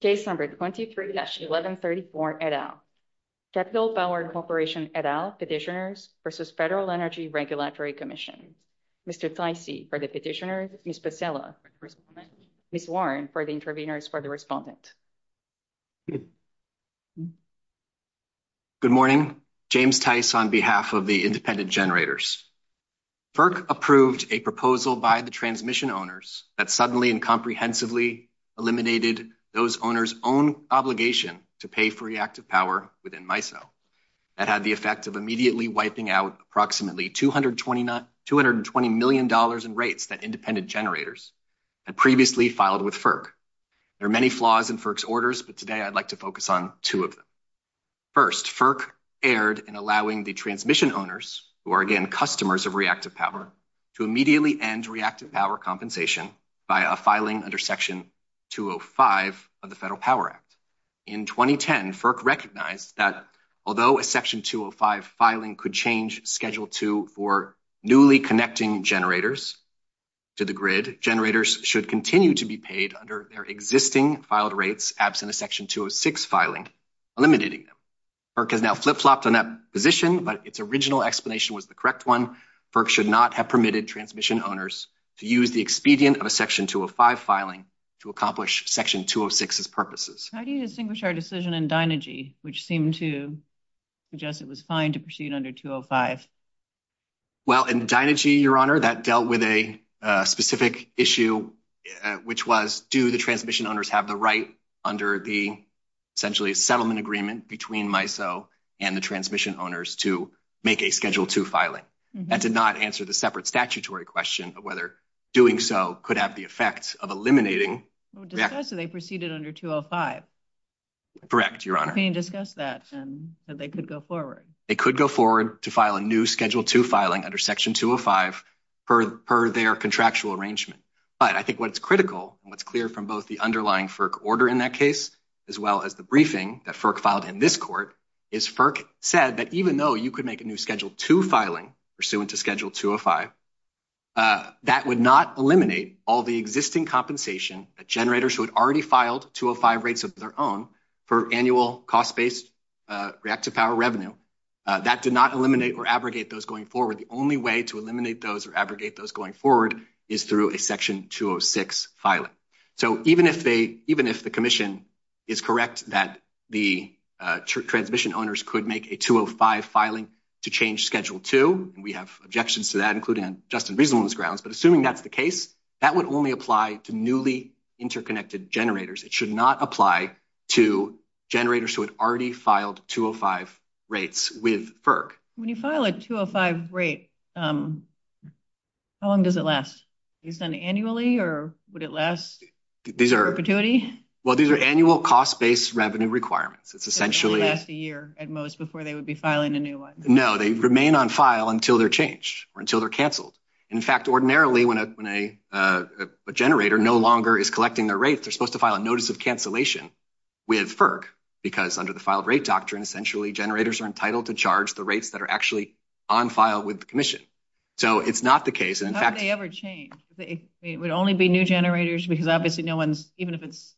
Case number 23-1134 et al., Capital Power Corporation et al. Petitioners v. Federal Energy Regulatory Commission. Mr. Theise for the petitioners, Ms. Becella for the respondents, Ms. Warren for the interveners for the respondents. Good morning, James Theise on behalf of the independent generators. FERC approved a proposal by the transmission owners that suddenly and comprehensively eliminated those owners' own obligation to pay for reactive power within MISO. That had the effect of immediately wiping out approximately $220 million in rates that independent generators had previously filed with FERC. There are many flaws in FERC's orders, but today I'd like to focus on two of them. First, FERC erred in allowing the transmission owners, who are again customers of reactive power, to immediately end reactive power compensation by a filing under Section 205 of the Federal Power Act. In 2010, FERC recognized that although a Section 205 filing could change Schedule II for newly connecting generators to the grid, generators should continue to be paid under their existing filed rates absent a Section 206 filing, eliminating them. FERC has now flip-flopped on that position, but its original explanation was the correct one. FERC should not have permitted transmission owners to use the expedient of a Section 205 filing to accomplish Section 206's purposes. How do you distinguish our decision in Dynagy, which seemed to suggest it was fine to proceed under 205? Well, in Dynagy, Your Honor, that dealt with a specific issue, which was, do the transmission owners have the right under the, essentially, a settlement agreement between MISO and the transmission owners to make a Schedule II filing? That did not answer the separate statutory question of whether doing so could have the effect of eliminating... Discussed that they proceeded under 205. Correct, Your Honor. Discussed that and that they could go forward. They could go forward to file a new Schedule II filing under Section 205 per their contractual arrangement. But I think what's critical and what's clear from both the underlying FERC order in that case, as well as the briefing that FERC filed in this court, is FERC said that even though you could make a new Schedule II filing pursuant to Schedule 205, that would not eliminate all the existing compensation that generators who had already filed 205 rates of their own for annual cost-based reactive power revenue. That did not eliminate or abrogate those going forward. The only way to eliminate those or abrogate those going forward is through a Section 206 filing. So even if the Commission is correct that the transmission owners could make a 205 filing to change Schedule II, and we have objections to that, including just in reasonableness grounds, but assuming that's the case, that would only apply to newly interconnected generators. It should not apply to generators who had already filed 205 rates with FERC. When you file a 205 rate, how long does it last? Do you send it annually or would it last perpetuity? Well, these are annual cost-based revenue requirements. It's essentially... It would last a year at most before they would be filing a new one. No, they remain on file until they're changed or until they're canceled. In fact, ordinarily, when a generator no longer is collecting their rates, they're supposed to file a Notice of Cancellation with FERC, because under the Filed Rate Doctrine, essentially, generators are entitled to charge the rates that are actually on file with the Commission. So it's not the case. How would they ever change? It would only be new generators, because obviously no one's... Even if it's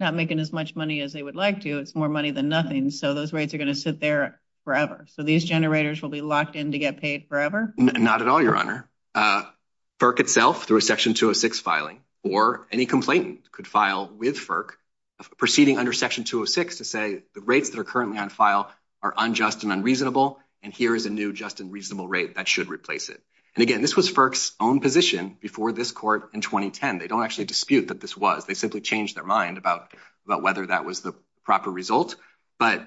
not making as much money as they would like to, it's more money than nothing. So those rates are going to sit there forever. So these generators will be locked in to get paid forever? Not at all, Your Honor. FERC itself, through a Section 206 filing, or any complainant could file with FERC proceeding under Section 206 to say the rates that are currently on file are unjust and unreasonable, and here is a new just and reasonable rate that should replace it. And again, this was FERC's own position before this Court in 2010. They don't actually dispute that this was. They simply changed their mind about whether that was the proper result. But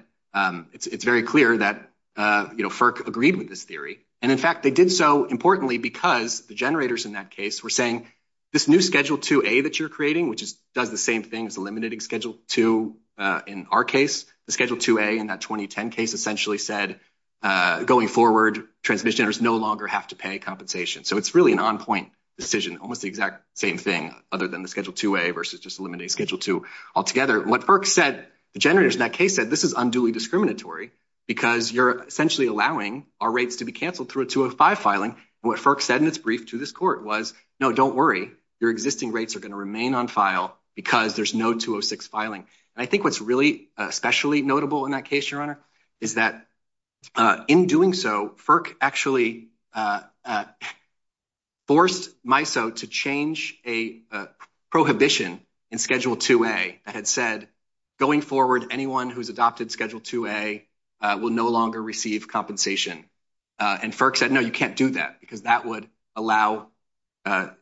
it's very clear that FERC agreed with this theory. And in fact, they did so, importantly, because the generators in that case were saying, this new Schedule 2A that you're creating, which does the same thing as the limiting Schedule 2 in our case, the Schedule 2A in that 2010 case essentially said, going forward, transmission generators no longer have to pay compensation. So it's really an on-point decision, almost the exact same thing, other than the Schedule 2A versus just eliminating Schedule 2 altogether. What FERC said, the generators in that case said, this is unduly discriminatory because you're essentially allowing our rates to be canceled through a 205 filing. What FERC said in its brief to this Court was, no, don't worry, your existing rates are going to remain on file because there's no 206 filing. And I think what's really especially notable in that case, Your Honor, is that in doing so, FERC actually forced MISO to change a prohibition in Schedule 2A that had said, going forward, anyone who's adopted Schedule 2A will no longer receive compensation. And FERC said, no, you can't do that because that would allow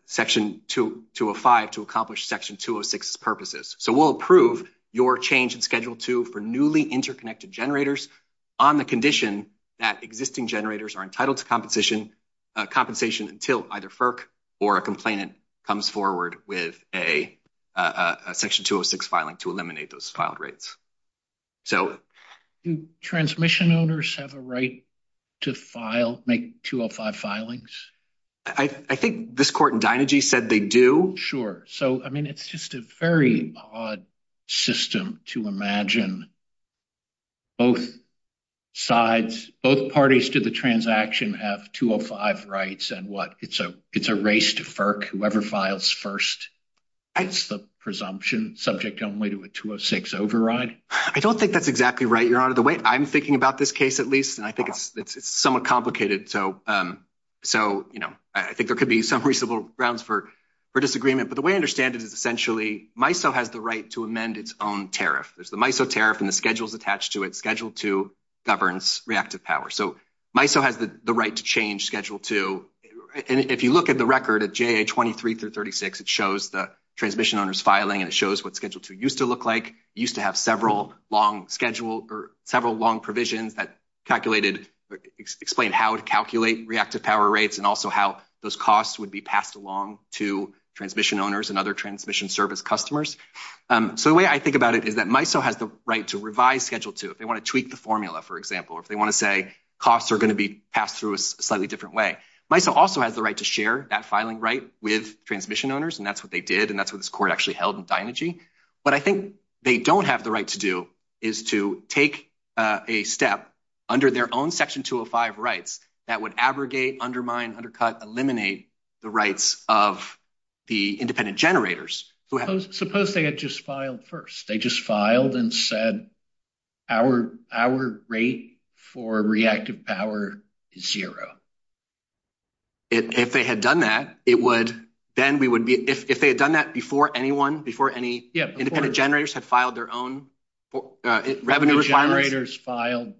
Section 205 to accomplish Section 206's purposes. So we'll approve your change in Schedule 2 for newly interconnected generators on the condition that existing generators are entitled to compensation until either FERC or a complainant comes forward with a Section 206 filing to eliminate those filed rates. Do transmission owners have a right to file, make 205 filings? I think this Court in Dynegy said they do. Sure. So, I mean, it's just a very odd system to imagine both sides, both parties to the transaction have 205 rights and what, it's a race to FERC. Whoever files first is the presumption subject only to a 206 override. I don't think that's exactly right, Your Honor. The way I'm thinking about this case, at least, and I think it's somewhat complicated. So, you know, I think there could be some reasonable grounds for disagreement. But the way I understand it is essentially MISO has the right to amend its own tariff. There's the MISO tariff and the schedules attached to it. Schedule 2 governs reactive power. So MISO has the right to change Schedule 2. And if you look at the record at JA23-36, it shows the transmission owners filing and it shows what Schedule 2 used to look like. It used to have several long schedules or several long provisions that calculated, explained how to calculate reactive power rates and also how those costs would be passed along to transmission owners and other transmission service customers. So the way I think about it is that MISO has the right to revise Schedule 2. If they want to tweak the formula, for example, if they want to say costs are going to be passed through a slightly different way. MISO also has the right to share that filing right with transmission owners. And that's what they did. And that's what this Court actually held in Dynegy. What I think they don't have the right to do is to take a step under their own Section 205 rights that would abrogate, undermine, undercut, eliminate the rights of the independent generators. Suppose they had just filed first. They just filed and said our rate for reactive power is zero. If they had done that, it would, then we would be, if they had done that before anyone, before any independent generators had filed their own revenue requirement.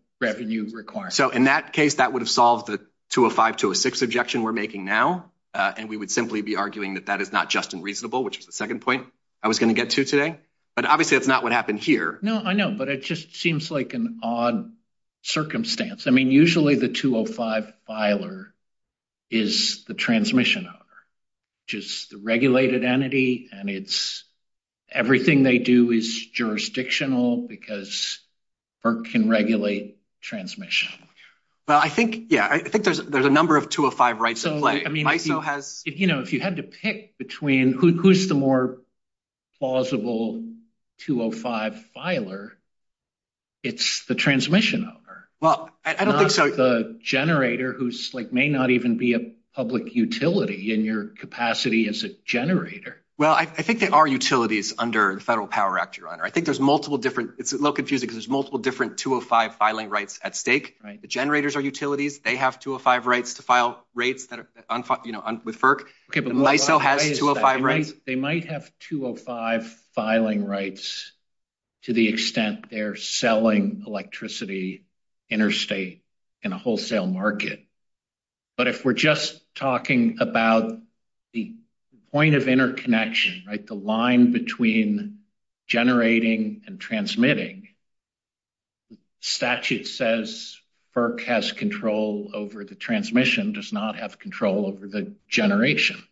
So, in that case, that would have solved the 205-206 objection we're making now. And we would simply be arguing that that is not just and reasonable, which is the second point I was going to get to today. But obviously, that's not what happened here. No, I know, but it just seems like an odd circumstance. I mean, usually the 205 filer is the transmission owner, which is the regulated entity. And it's everything they do is jurisdictional because FERC can regulate transmission. But I think, yeah, I think there's a number of 205 rights. So, I mean, if you had to pick between who's the more plausible 205 filer, it's the transmission owner. Well, I don't think so. The generator who's like may not even be a public utility in your capacity as a generator. Well, I think there are utilities under the Federal Power Act, Your Honor. I think there's multiple different, it's a little confusing because there's multiple different 205 filing rights at stake. The generators are utilities. They have 205 rights to file rates with FERC. They might have 205 filing rights to the extent they're selling electricity interstate in a wholesale market. But if we're just talking about the point of interconnection, right, the line between generating and transmitting, the statute says FERC has control over the transmission, does not have control over the generation.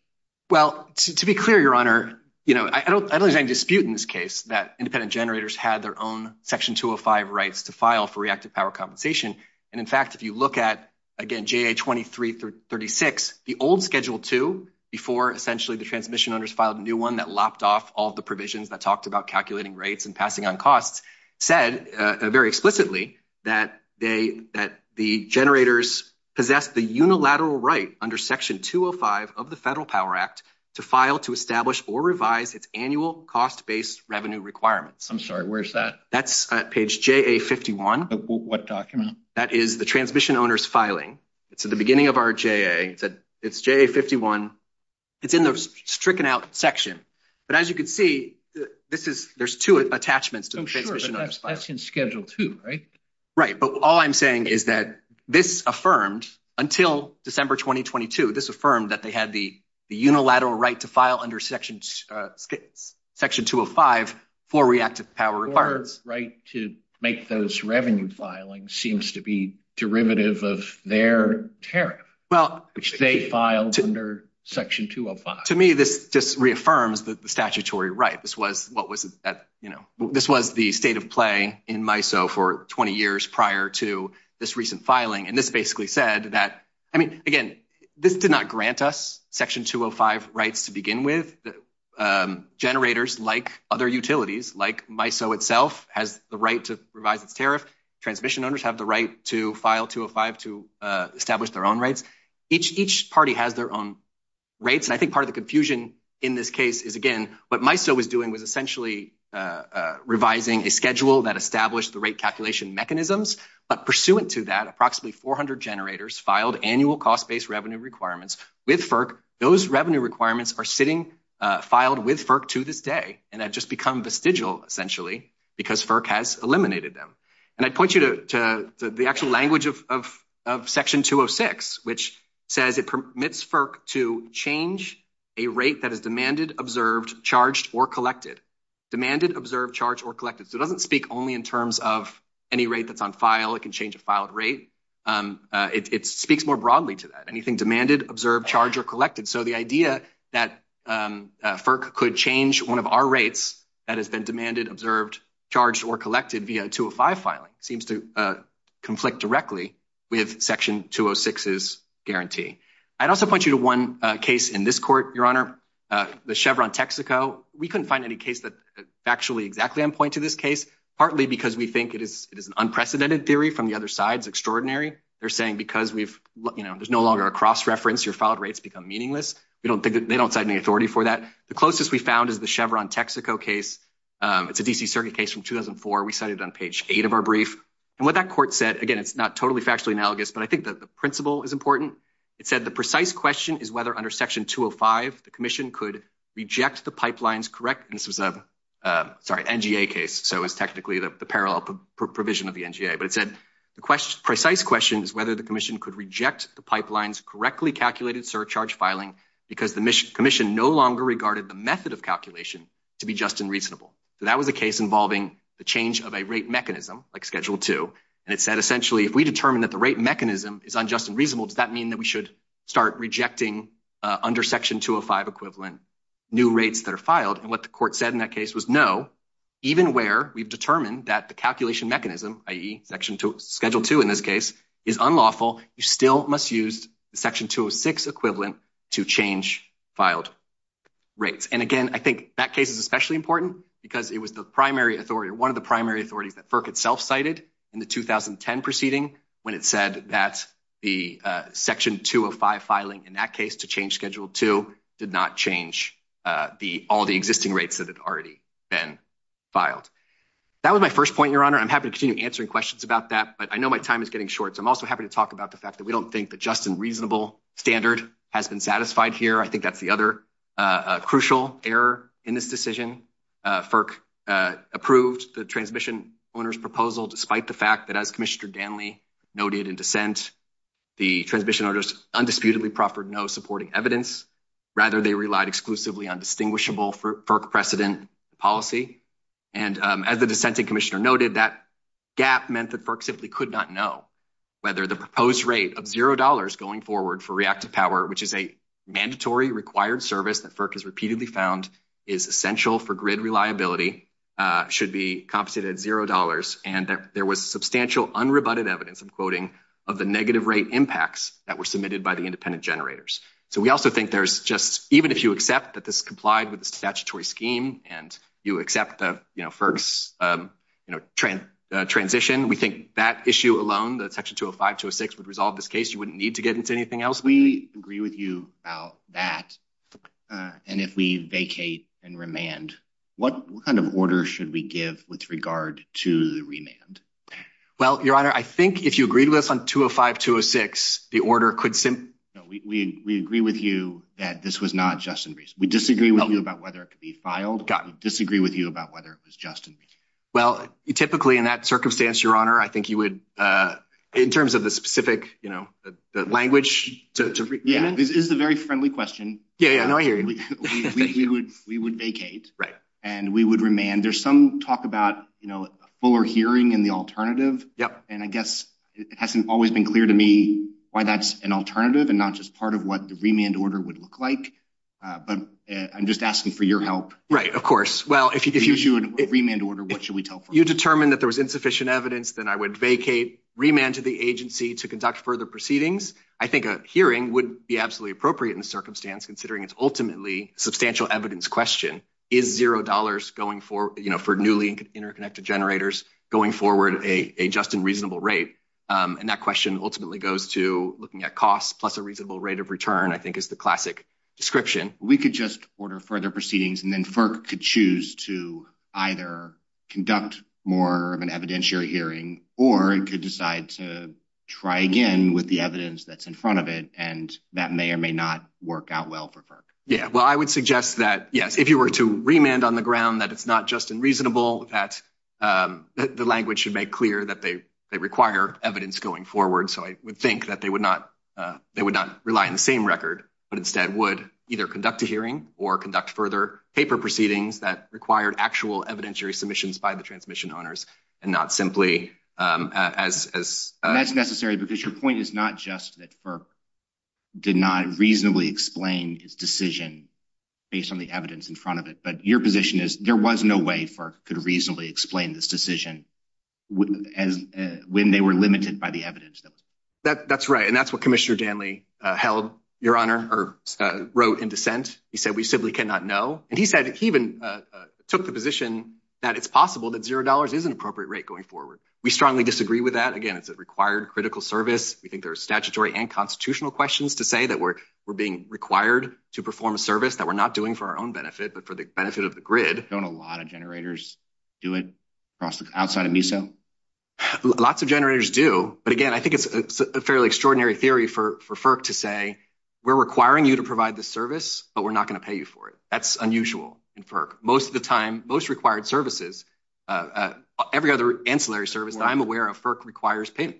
Well, to be clear, Your Honor, you know, I don't think there's any dispute in this case that independent generators had their own Section 205 rights to file for reactive power compensation. And, in fact, if you look at, again, JA2336, the old Schedule 2, before essentially the transmission owners filed a new one that lopped off all the provisions that talked about calculating rates and passing on costs, said very explicitly that the generators possess the unilateral right under Section 205 of the Federal Power Act to file, to establish, or revise its annual cost-based revenue requirements. I'm sorry, where's that? That's page JA51. What document? That is the transmission owners filing. It's at the beginning of our JA. It's JA51. It's in the stricken out section. But, as you can see, there's two attachments to the transmission owners filing. That's in Schedule 2, right? Right. But all I'm saying is that this affirms, until December 2022, this affirmed that they had the unilateral right to file under Section 205 for reactive power requirements. The right to make those revenue filings seems to be derivative of their tariff, which they filed under Section 205. To me, this just reaffirms the statutory right. This was the state of play in MISO for 20 years prior to this recent filing. And this basically said that, I mean, again, this did not grant us Section 205 rights to begin with. Generators, like other utilities, like MISO itself, has the right to revise its tariff. Transmission owners have the right to file 205 to establish their own rights. Each party has their own rates. And I think part of the confusion in this case is, again, what MISO was doing was essentially revising a schedule that established the rate calculation mechanisms. But pursuant to that, approximately 400 generators filed annual cost-based revenue requirements with FERC. Those revenue requirements are sitting filed with FERC to this day. And they've just become vestigial, essentially, because FERC has eliminated them. And I point you to the actual language of Section 206, which says it permits FERC to change a rate that is demanded, observed, charged, or collected. Demanded, observed, charged, or collected. So it doesn't speak only in terms of any rate that's on file. It can change a filed rate. It speaks more broadly to that. Anything demanded, observed, charged, or collected. So the idea that FERC could change one of our rates that has been demanded, observed, charged, or collected via a 205 filing seems to conflict directly with Section 206's guarantee. I'd also point you to one case in this court, Your Honor. The Chevron Texaco. We couldn't find any case that's actually exactly on point to this case, partly because we think it is an unprecedented theory from the other side. It's extraordinary. They're saying because there's no longer a cross-reference, your filed rates become meaningless. They don't sign any authority for that. The closest we found is the Chevron Texaco case. It's a D.C. circuit case from 2004. We cited it on page 8 of our brief. And what that court said, again, it's not totally factually analogous, but I think the principle is important. It said the precise question is whether under Section 205 the commission could reject the pipelines correct. This is an NGA case, so it's technically the parallel provision of the NGA. But it said the precise question is whether the commission could reject the pipelines correctly calculated surcharge filing because the commission no longer regarded the method of calculation to be just and reasonable. So that was a case involving the change of a rate mechanism, like Schedule 2, and it said essentially if we determine that the rate mechanism is unjust and reasonable, does that mean that we should start rejecting under Section 205 equivalent new rates that are filed? And what the court said in that case was no. Even where we've determined that the calculation mechanism, i.e., Schedule 2 in this case, is unlawful, you still must use the Section 206 equivalent to change filed rates. And again, I think that case is especially important because it was the primary authority or one of the primary authorities that FERC itself cited in the 2010 proceeding when it said that the Section 205 filing in that case to change Schedule 2 did not change all the existing rates that had already been filed. That was my first point, Your Honor. I'm happy to continue answering questions about that, but I know my time is getting short, so I'm also happy to talk about the fact that we don't think the just and reasonable standard has been satisfied here. I think that's the other crucial error in this decision. FERC approved the transmission owner's proposal despite the fact that, as Commissioner Danley noted in dissent, the transmission owners undisputedly proffered no supporting evidence. Rather, they relied exclusively on distinguishable FERC precedent policy. And as the dissenting Commissioner noted, that gap meant that FERC simply could not know whether the proposed rate of $0 going forward for reactive power, which is a mandatory required service that FERC has repeatedly found is essential for grid reliability, should be compensated at $0. And there was substantial unrebutted evidence, I'm quoting, of the negative rate impacts that were submitted by the independent generators. So we also think there's just, even if you accept that this complied with the statutory scheme and you accept the FERC's transition, we think that issue alone, that Section 205, 206 would resolve this case, you wouldn't need to get into anything else. We agree with you about that. And if we vacate and remand, what kind of order should we give with regard to the remand? Well, Your Honor, I think if you agreed with us on 205, 206, the order could simply – We agree with you that this was not just in reason. We disagree with you about whether it could be filed. We disagree with you about whether it was just in reason. Well, typically in that circumstance, Your Honor, I think you would, in terms of the specific language – This is a very friendly question. Yeah, I hear you. We would vacate. And we would remand. There's some talk about a fuller hearing and the alternative. And I guess it hasn't always been clear to me why that's an alternative and not just part of what the remand order would look like. But I'm just asking for your help. Right, of course. Well, if you could issue a remand order, what should we tell folks? You determined that there was insufficient evidence, then I would vacate, remand to the agency to conduct further proceedings. I think a hearing would be absolutely appropriate in the circumstance, considering it's ultimately a substantial evidence question. Is $0 for newly interconnected generators going forward at a just and reasonable rate? And that question ultimately goes to looking at cost plus a reasonable rate of return, I think, is the classic description. We could just order further proceedings, and then FERC could choose to either conduct more of an evidentiary hearing or to decide to try again with the evidence that's in front of it, and that may or may not work out well for FERC. Yeah, well, I would suggest that, yes, if you were to remand on the ground that it's not just unreasonable, that the language should make clear that they require evidence going forward. So I would think that they would not rely on the same record, but instead would either conduct a hearing or conduct further paper proceedings that required actual evidentiary submissions by the transmission honors and not simply as— That's necessary because your point is not just that FERC did not reasonably explain its decision based on the evidence in front of it, but your position is there was no way FERC could reasonably explain this decision when they were limited by the evidence. That's right, and that's what Commissioner Danley held, Your Honor, or wrote in dissent. He said, we simply cannot know. And he said he even took the position that it's possible that $0 is an appropriate rate going forward. We strongly disagree with that. Again, it's a required critical service. We think there are statutory and constitutional questions to say that we're being required to perform a service that we're not doing for our own benefit but for the benefit of the grid. Don't a lot of generators do it outside of MISA? Lots of generators do, but again, I think it's a fairly extraordinary theory for FERC to say, we're requiring you to provide this service, but we're not going to pay you for it. That's unusual in FERC. Most of the time, most required services, every other ancillary service that I'm aware of, FERC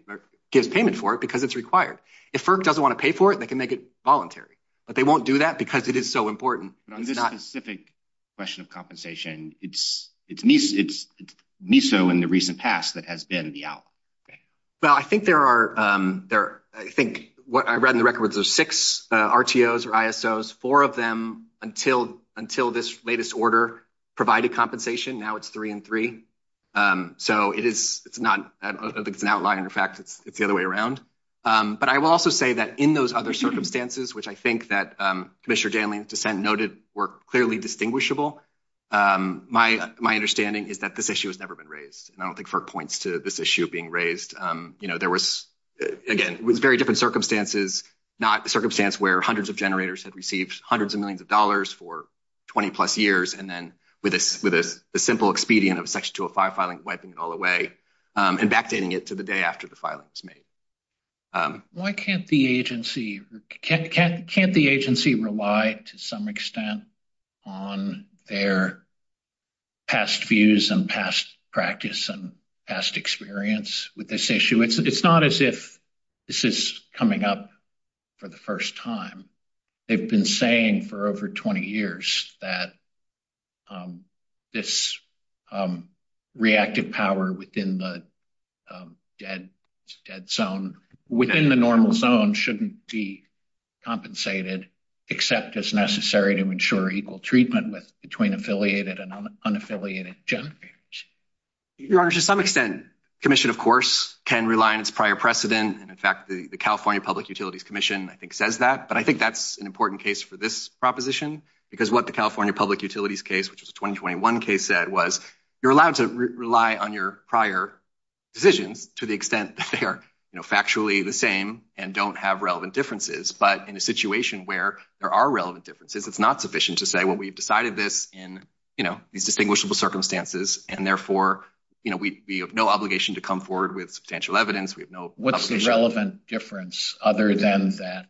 gives payment for it because it's required. If FERC doesn't want to pay for it, they can make it voluntary, but they won't do that because it is so important. On this specific question of compensation, it's MISA and the recent task that has been the out. Well, I think there are, I think I read in the record, there's six RTOs or ISOs, four of them until this latest order provided compensation. Now, it's three and three. So, it's an outlier. In fact, it's the other way around. But I will also say that in those other circumstances, which I think that Commissioner Dailing's dissent noted were clearly distinguishable, my understanding is that this issue has never been raised, and I don't think FERC points to this issue being raised. There was, again, it was very different circumstances, not a circumstance where hundreds of generators had received hundreds of millions of dollars for 20 plus years and then with a simple expedient of a Section 205 filing, wiping it all away and backdating it to the day after the filing was made. Why can't the agency rely to some extent on their past views and past practice and past experience with this issue? It's not as if this is coming up for the first time. They've been saying for over 20 years that this reactive power within the dead zone, within the normal zone, shouldn't be compensated, except as necessary to ensure equal treatment between affiliated and unaffiliated generators. Your Honor, to some extent, Commission, of course, can rely on its prior precedent. And in fact, the California Public Utilities Commission, I think, says that. But I think that's an important case for this proposition, because what the California Public Utilities case, which is a 2021 case, said was, you're allowed to rely on your prior decision to the extent that they are factually the same and don't have relevant differences. But in a situation where there are relevant differences, it's not sufficient to say, well, we've decided this in these distinguishable circumstances and therefore we have no obligation to come forward with substantial evidence. What's the relevant difference other than that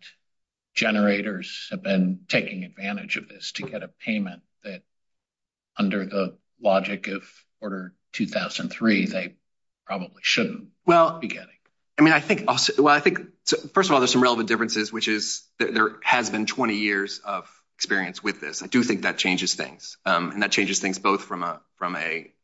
generators have been taking advantage of this to get a payment that, under the logic of Order 2003, they probably shouldn't be getting? Well, I think, first of all, there's some relevant differences, which is that there has been 20 years of experience with this. I do think that changes things. And that changes things both from a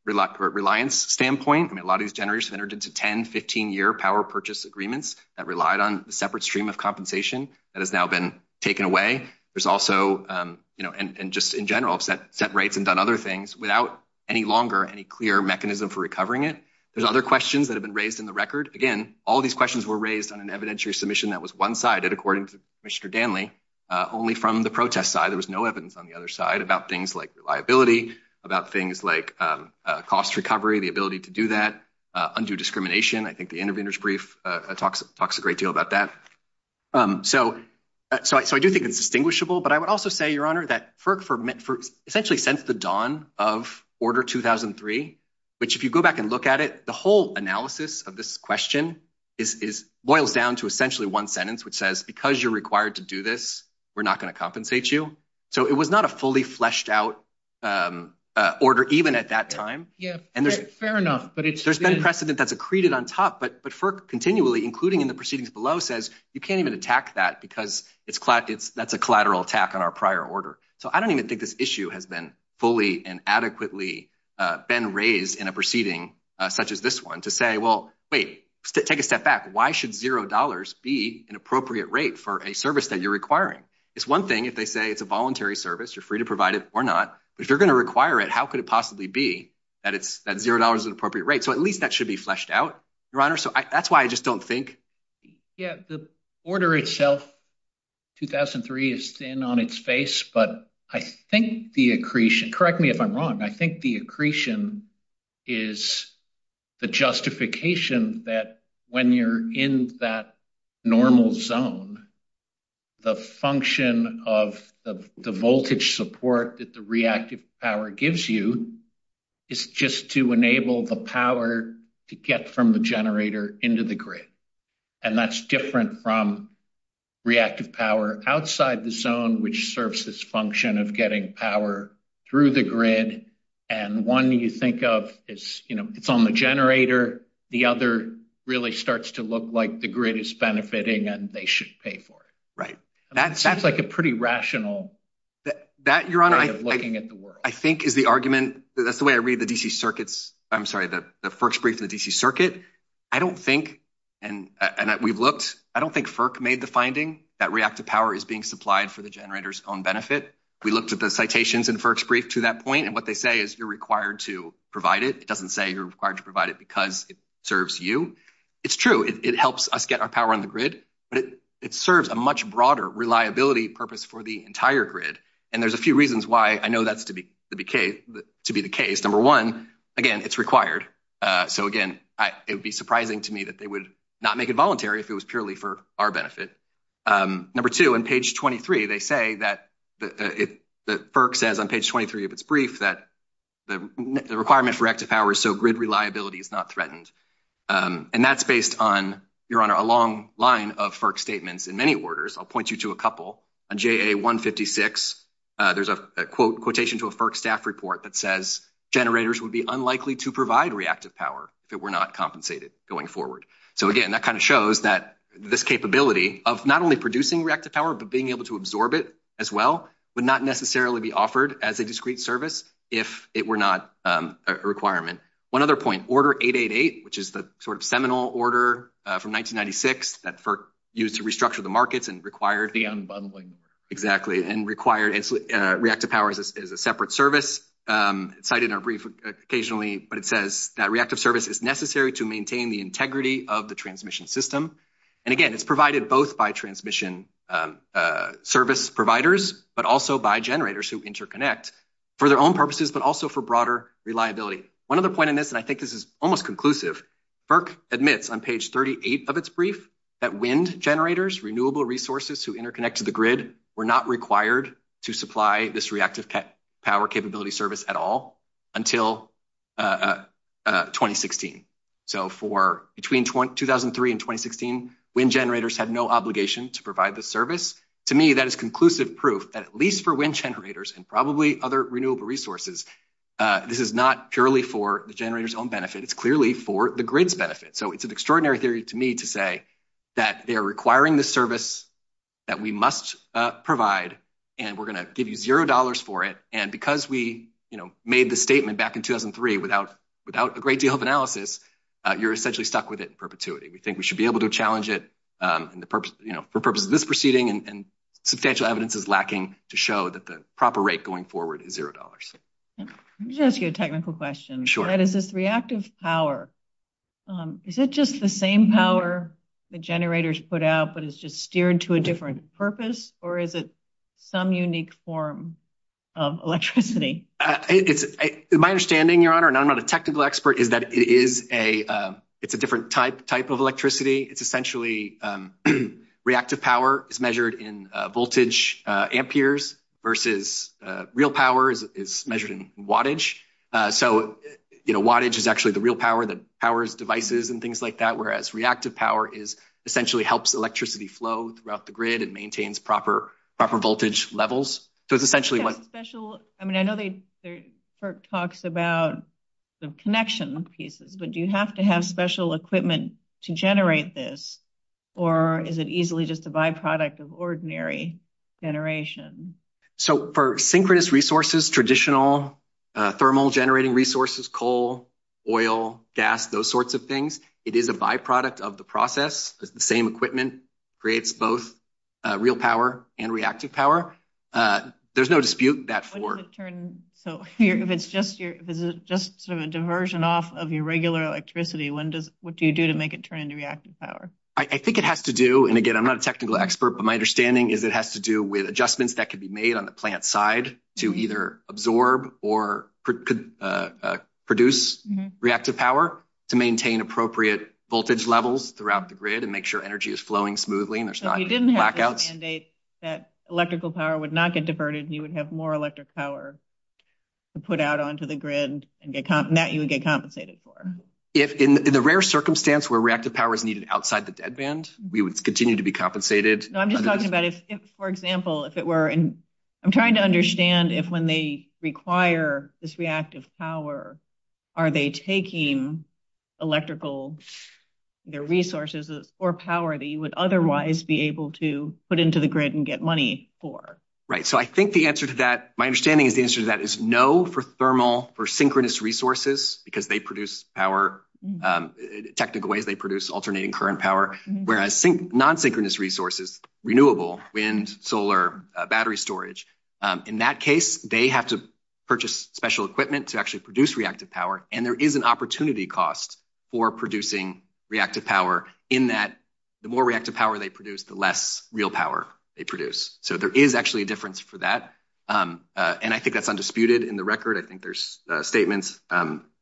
reliance standpoint. I mean, a lot of these generators have entered into 10, 15-year power purchase agreements that relied on a separate stream of compensation that has now been taken away. There's also, and just in general, set rates and done other things without any longer any clear mechanism for recovering it. There's other questions that have been raised in the record. Again, all these questions were raised on an evidentiary submission that was one-sided, according to Commissioner Danley, only from the protest side. There was no evidence on the other side about things like reliability, about things like cost recovery, the ability to do that, undue discrimination. I think the intervener's brief talks a great deal about that. So I do think it's distinguishable, but I would also say, Your Honor, that essentially since the dawn of Order 2003, which if you go back and look at it, the whole analysis of this question boils down to essentially one sentence, which says because you're required to do this, we're not going to compensate you. So it was not a fully fleshed-out order even at that time. Fair enough. There's been precedent that's accreted on top, but continually, including in the proceedings below, says you can't even attack that because that's a collateral attack on our prior order. So I don't even think this issue has been fully and adequately been raised in a proceeding such as this one to say, well, wait, take a step back. Why should $0 be an appropriate rate for a service that you're requiring? It's one thing if they say it's a voluntary service, you're free to provide it or not, but if you're going to require it, how could it possibly be that $0 is an appropriate rate? So at least that should be fleshed out, Your Honor. So that's why I just don't think. Yeah, the order itself, 2003, is thin on its face, but I think the accretion – correct me if I'm wrong – I think the accretion is the justification that when you're in that normal zone, the function of the voltage support that the reactive power gives you is just to enable the power to get from the generator into the grid. And that's different from reactive power outside the zone, which serves this function of getting power through the grid. And one you think of is, you know, it's on the generator. The other really starts to look like the grid is benefiting and they should pay for it. Right. That seems like a pretty rational way of looking at the work. That, Your Honor, I think is the argument – that's the way I read the DC circuits – I'm sorry, the first brief of the DC circuit. I don't think – and we've looked – I don't think FERC made the finding that reactive power is being supplied for the generator's own benefit. We looked at the citations in the first brief to that point, and what they say is you're required to provide it. It doesn't say you're required to provide it because it serves you. It's true. It helps us get our power on the grid, but it serves a much broader reliability purpose for the entire grid. And there's a few reasons why I know that's to be the case. Number one, again, it's required. So, again, it would be surprising to me that they would not make it voluntary if it was purely for our benefit. Number two, on page 23, they say that – FERC says on page 23 of its brief that the requirement for reactive power is so grid reliability is not threatened. And that's based on, Your Honor, a long line of FERC statements in many orders. I'll point you to a couple. On JA156, there's a quotation to a FERC staff report that says generators would be unlikely to provide reactive power if it were not compensated going forward. So, again, that kind of shows that this capability of not only producing reactive power but being able to absorb it as well would not necessarily be offered as a discrete service if it were not a requirement. One other point, Order 888, which is the sort of seminal order from 1996 that FERC used to restructure the markets and required – The unbundling. Exactly, and required reactive power as a separate service. It's cited in our brief occasionally, but it says that reactive service is necessary to maintain the integrity of the transmission system. And, again, it's provided both by transmission service providers but also by generators who interconnect for their own purposes but also for broader reliability. One other point on this, and I think this is almost conclusive, FERC admits on page 38 of its brief that wind generators, renewable resources to interconnect to the grid, were not required to supply this reactive power capability service at all until 2016. So, between 2003 and 2016, wind generators had no obligation to provide this service. To me, that is conclusive proof, at least for wind generators and probably other renewable resources, this is not purely for the generator's own benefit. It's clearly for the grid's benefit. So, it's an extraordinary theory to me to say that they are requiring this service that we must provide, and we're going to give you $0 for it. And because we made the statement back in 2003 without a great deal of analysis, you're essentially stuck with it in perpetuity. We think we should be able to challenge it for purposes of this proceeding and substantial evidence is lacking to show that the proper rate going forward is $0. Let me just ask you a technical question. Sure. What is this reactive power? Is it just the same power the generators put out, but it's just steered to a different purpose, or is it some unique form of electricity? My understanding, Your Honor, and I'm not a technical expert, is that it's a different type of electricity. It's essentially reactive power is measured in voltage amperes versus real power is measured in wattage. So, wattage is actually the real power that powers devices and things like that, whereas reactive power essentially helps electricity flow throughout the grid and maintains proper voltage levels. So, it's essentially like – I mean, I know there are talks about the connection pieces, but do you have to have special equipment to generate this, or is it easily just a byproduct of ordinary generation? So, for synchronous resources, traditional thermal generating resources, coal, oil, gas, those sorts of things, it is a byproduct of the process. The same equipment creates both real power and reactive power. There's no dispute that forward. So, if it's just sort of a diversion off of your regular electricity, what do you do to make it turn into reactive power? I think it has to do – and again, I'm not a technical expert, but my understanding is it has to do with adjustments that can be made on the plant side to either absorb or produce reactive power or to maintain appropriate voltage levels throughout the grid and make sure energy is flowing smoothly and there's not blackouts. So, you didn't have to mandate that electrical power would not get diverted and you would have more electric power to put out onto the grid and that you would get compensated for? In the rare circumstance where reactive power is needed outside the dead band, we would continue to be compensated. So, I'm just talking about if, for example, if it were – I'm trying to understand if when they require this reactive power, are they taking electrical resources or power that you would otherwise be able to put into the grid and get money for? Right. So, I think the answer to that – my understanding is the answer to that is no for thermal or synchronous resources because they produce power – technically, they produce alternating current power, whereas non-synchronous resources, renewable, wind, solar, battery storage, in that case, they have to purchase special equipment to actually produce reactive power and there is an opportunity cost for producing reactive power in that the more reactive power they produce, the less real power they produce. So, there is actually a difference for that. And I think that's undisputed in the record. I think there's statements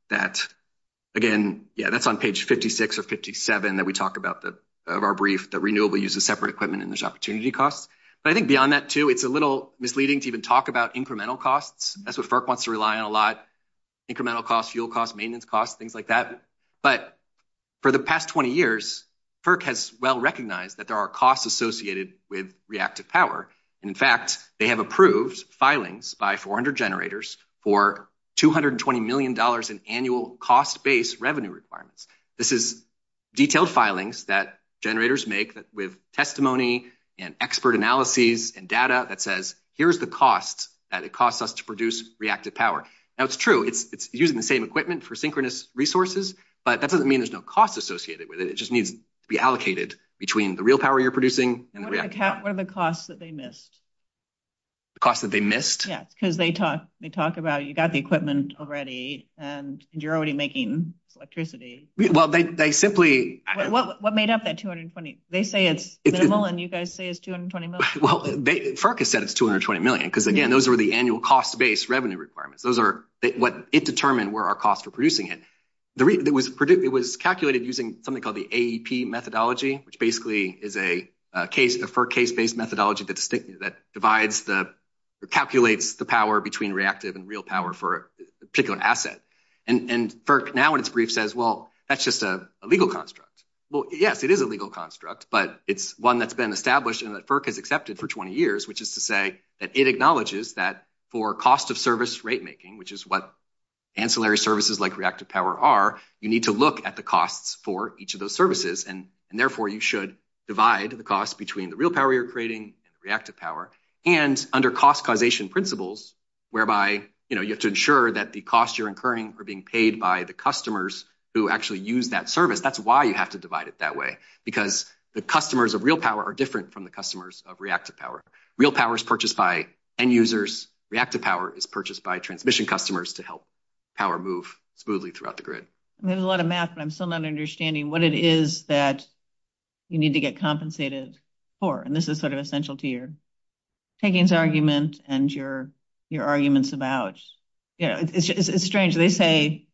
that – again, yeah, that's on page 56 or 57 that we talk about of our brief that renewable uses separate equipment and there's opportunity costs. But I think beyond that, too, it's a little misleading to even talk about incremental costs. That's what FERC wants to rely on a lot – incremental costs, fuel costs, maintenance costs, things like that. But for the past 20 years, FERC has well recognized that there are costs associated with reactive power. In fact, they have approved filings by 400 generators for $220 million in annual cost-based revenue requirements. This is detailed filings that generators make with testimony and expert analyses and data that says, here's the cost that it costs us to produce reactive power. Now, it's true, it's using the same equipment for synchronous resources, but that doesn't mean there's no cost associated with it. It just needs to be allocated between the real power you're producing and the reactive power. What are the costs that they missed? The costs that they missed? Yeah, because they talk about you got the equipment already and you're already making electricity. Well, they simply – What made up that $220 – they say it's minimal and you guys say it's $220 million. Well, FERC has said it's $220 million because, again, those are the annual cost-based revenue requirements. Those are – it determined where our costs were producing it. It was calculated using something called the AEP methodology, which basically is a FERC case-based methodology that calculates the power between reactive and real power for a particular asset. FERC now, in its brief, says, well, that's just a legal construct. Well, yes, it is a legal construct, but it's one that's been established and that FERC has accepted for 20 years, which is to say that it acknowledges that for cost-of-service rate-making, which is what ancillary services like reactive power are, you need to look at the costs for each of those services and, therefore, you should divide the cost between the real power you're creating and the reactive power, and under cost-causation principles, whereby you have to ensure that the costs you're incurring are being paid by the customers who actually use that service. That's why you have to divide it that way, because the customers of real power are different from the customers of reactive power. Real power is purchased by end users. Reactive power is purchased by transmission customers to help power move smoothly throughout the grid. There's a lot of math, but I'm still not understanding what it is that you need to get compensated for, and this is sort of essential to your takings argument and your arguments about. It's strange. They say,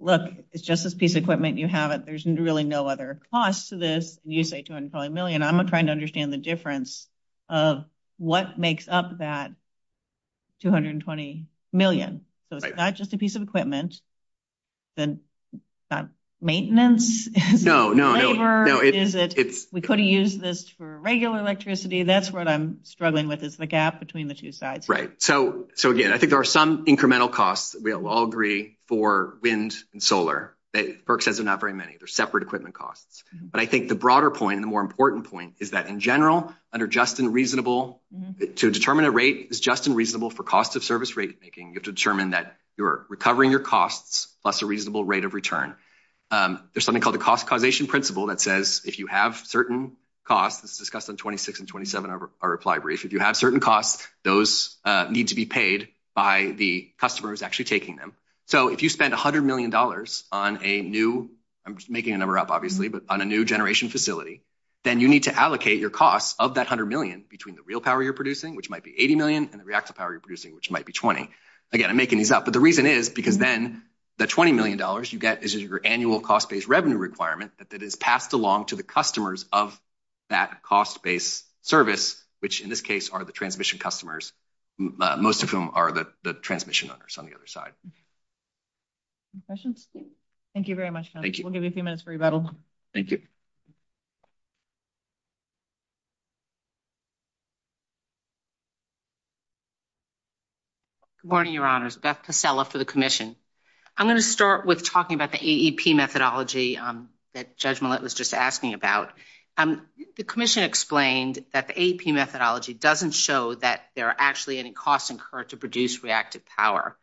look, it's just this piece of equipment. You have it. There's really no other cost to this. You say $220 million. I'm trying to understand the difference of what makes up that $220 million. So it's not just a piece of equipment. It's not maintenance. No, no. It's labor. We could have used this for regular electricity. That's what I'm struggling with is the gap between the two sides. Right. So, again, I think there are some incremental costs. We'll all agree for wind and solar that Berks says there are not very many. They're separate equipment costs. But I think the broader point and the more important point is that, in general, under just and reasonable, to determine a rate is just and reasonable for cost of service rate making, you have to determine that you're recovering your costs plus a reasonable rate of return. There's something called the cost causation principle that says if you have certain costs, as discussed on 26 and 27 of our reply brief, if you have certain costs, those need to be paid by the customer who's actually taking them. So if you spend $100 million on a new, I'm making a number up, obviously, but on a new generation facility, then you need to allocate your costs of that $100 million between the real power you're producing, which might be $80 million, and the reactive power you're producing, which might be $20. Again, I'm making these up. But the reason is because then the $20 million you get is your annual cost-based revenue requirement that is passed along to the customers of that cost-based service, which in this case are the transmission customers, most of whom are the transmission owners on the other side. Any questions? Thank you very much, Tony. Thank you. We'll give you a few minutes for rebuttal. Thank you. Good morning, Your Honors. Beth Pasella for the Commission. I'm going to start with talking about the AEP methodology that Judge Millett was just asking about. The Commission explained that the AEP methodology doesn't show that there are actually any costs incurred to produce reactive power.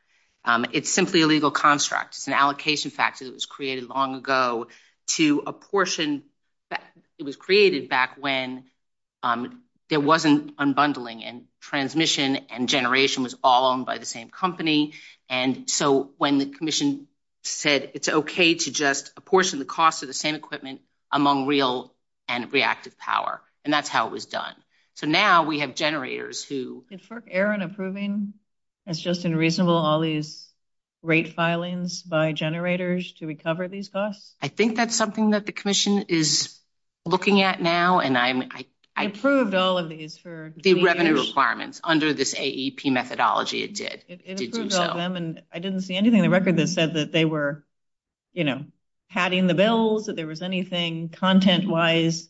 It's simply a legal construct. It's an allocation factor that was created long ago to a portion that was created back when there wasn't unbundling and transmission and generation was all owned by the same company. And so when the Commission said it's okay to just apportion the cost of the same equipment among real and reactive power, and that's how it was done. So now we have generators who – Is FERC error in approving? It's just unreasonable all these rate filings by generators to recover these costs? I think that's something that the Commission is looking at now, and I'm – It approved all of these for – The revenue requirements under this AEP methodology it did. It approved all of them, and I didn't see anything in the record that said that they were, you know, padding the bills, that there was anything content-wise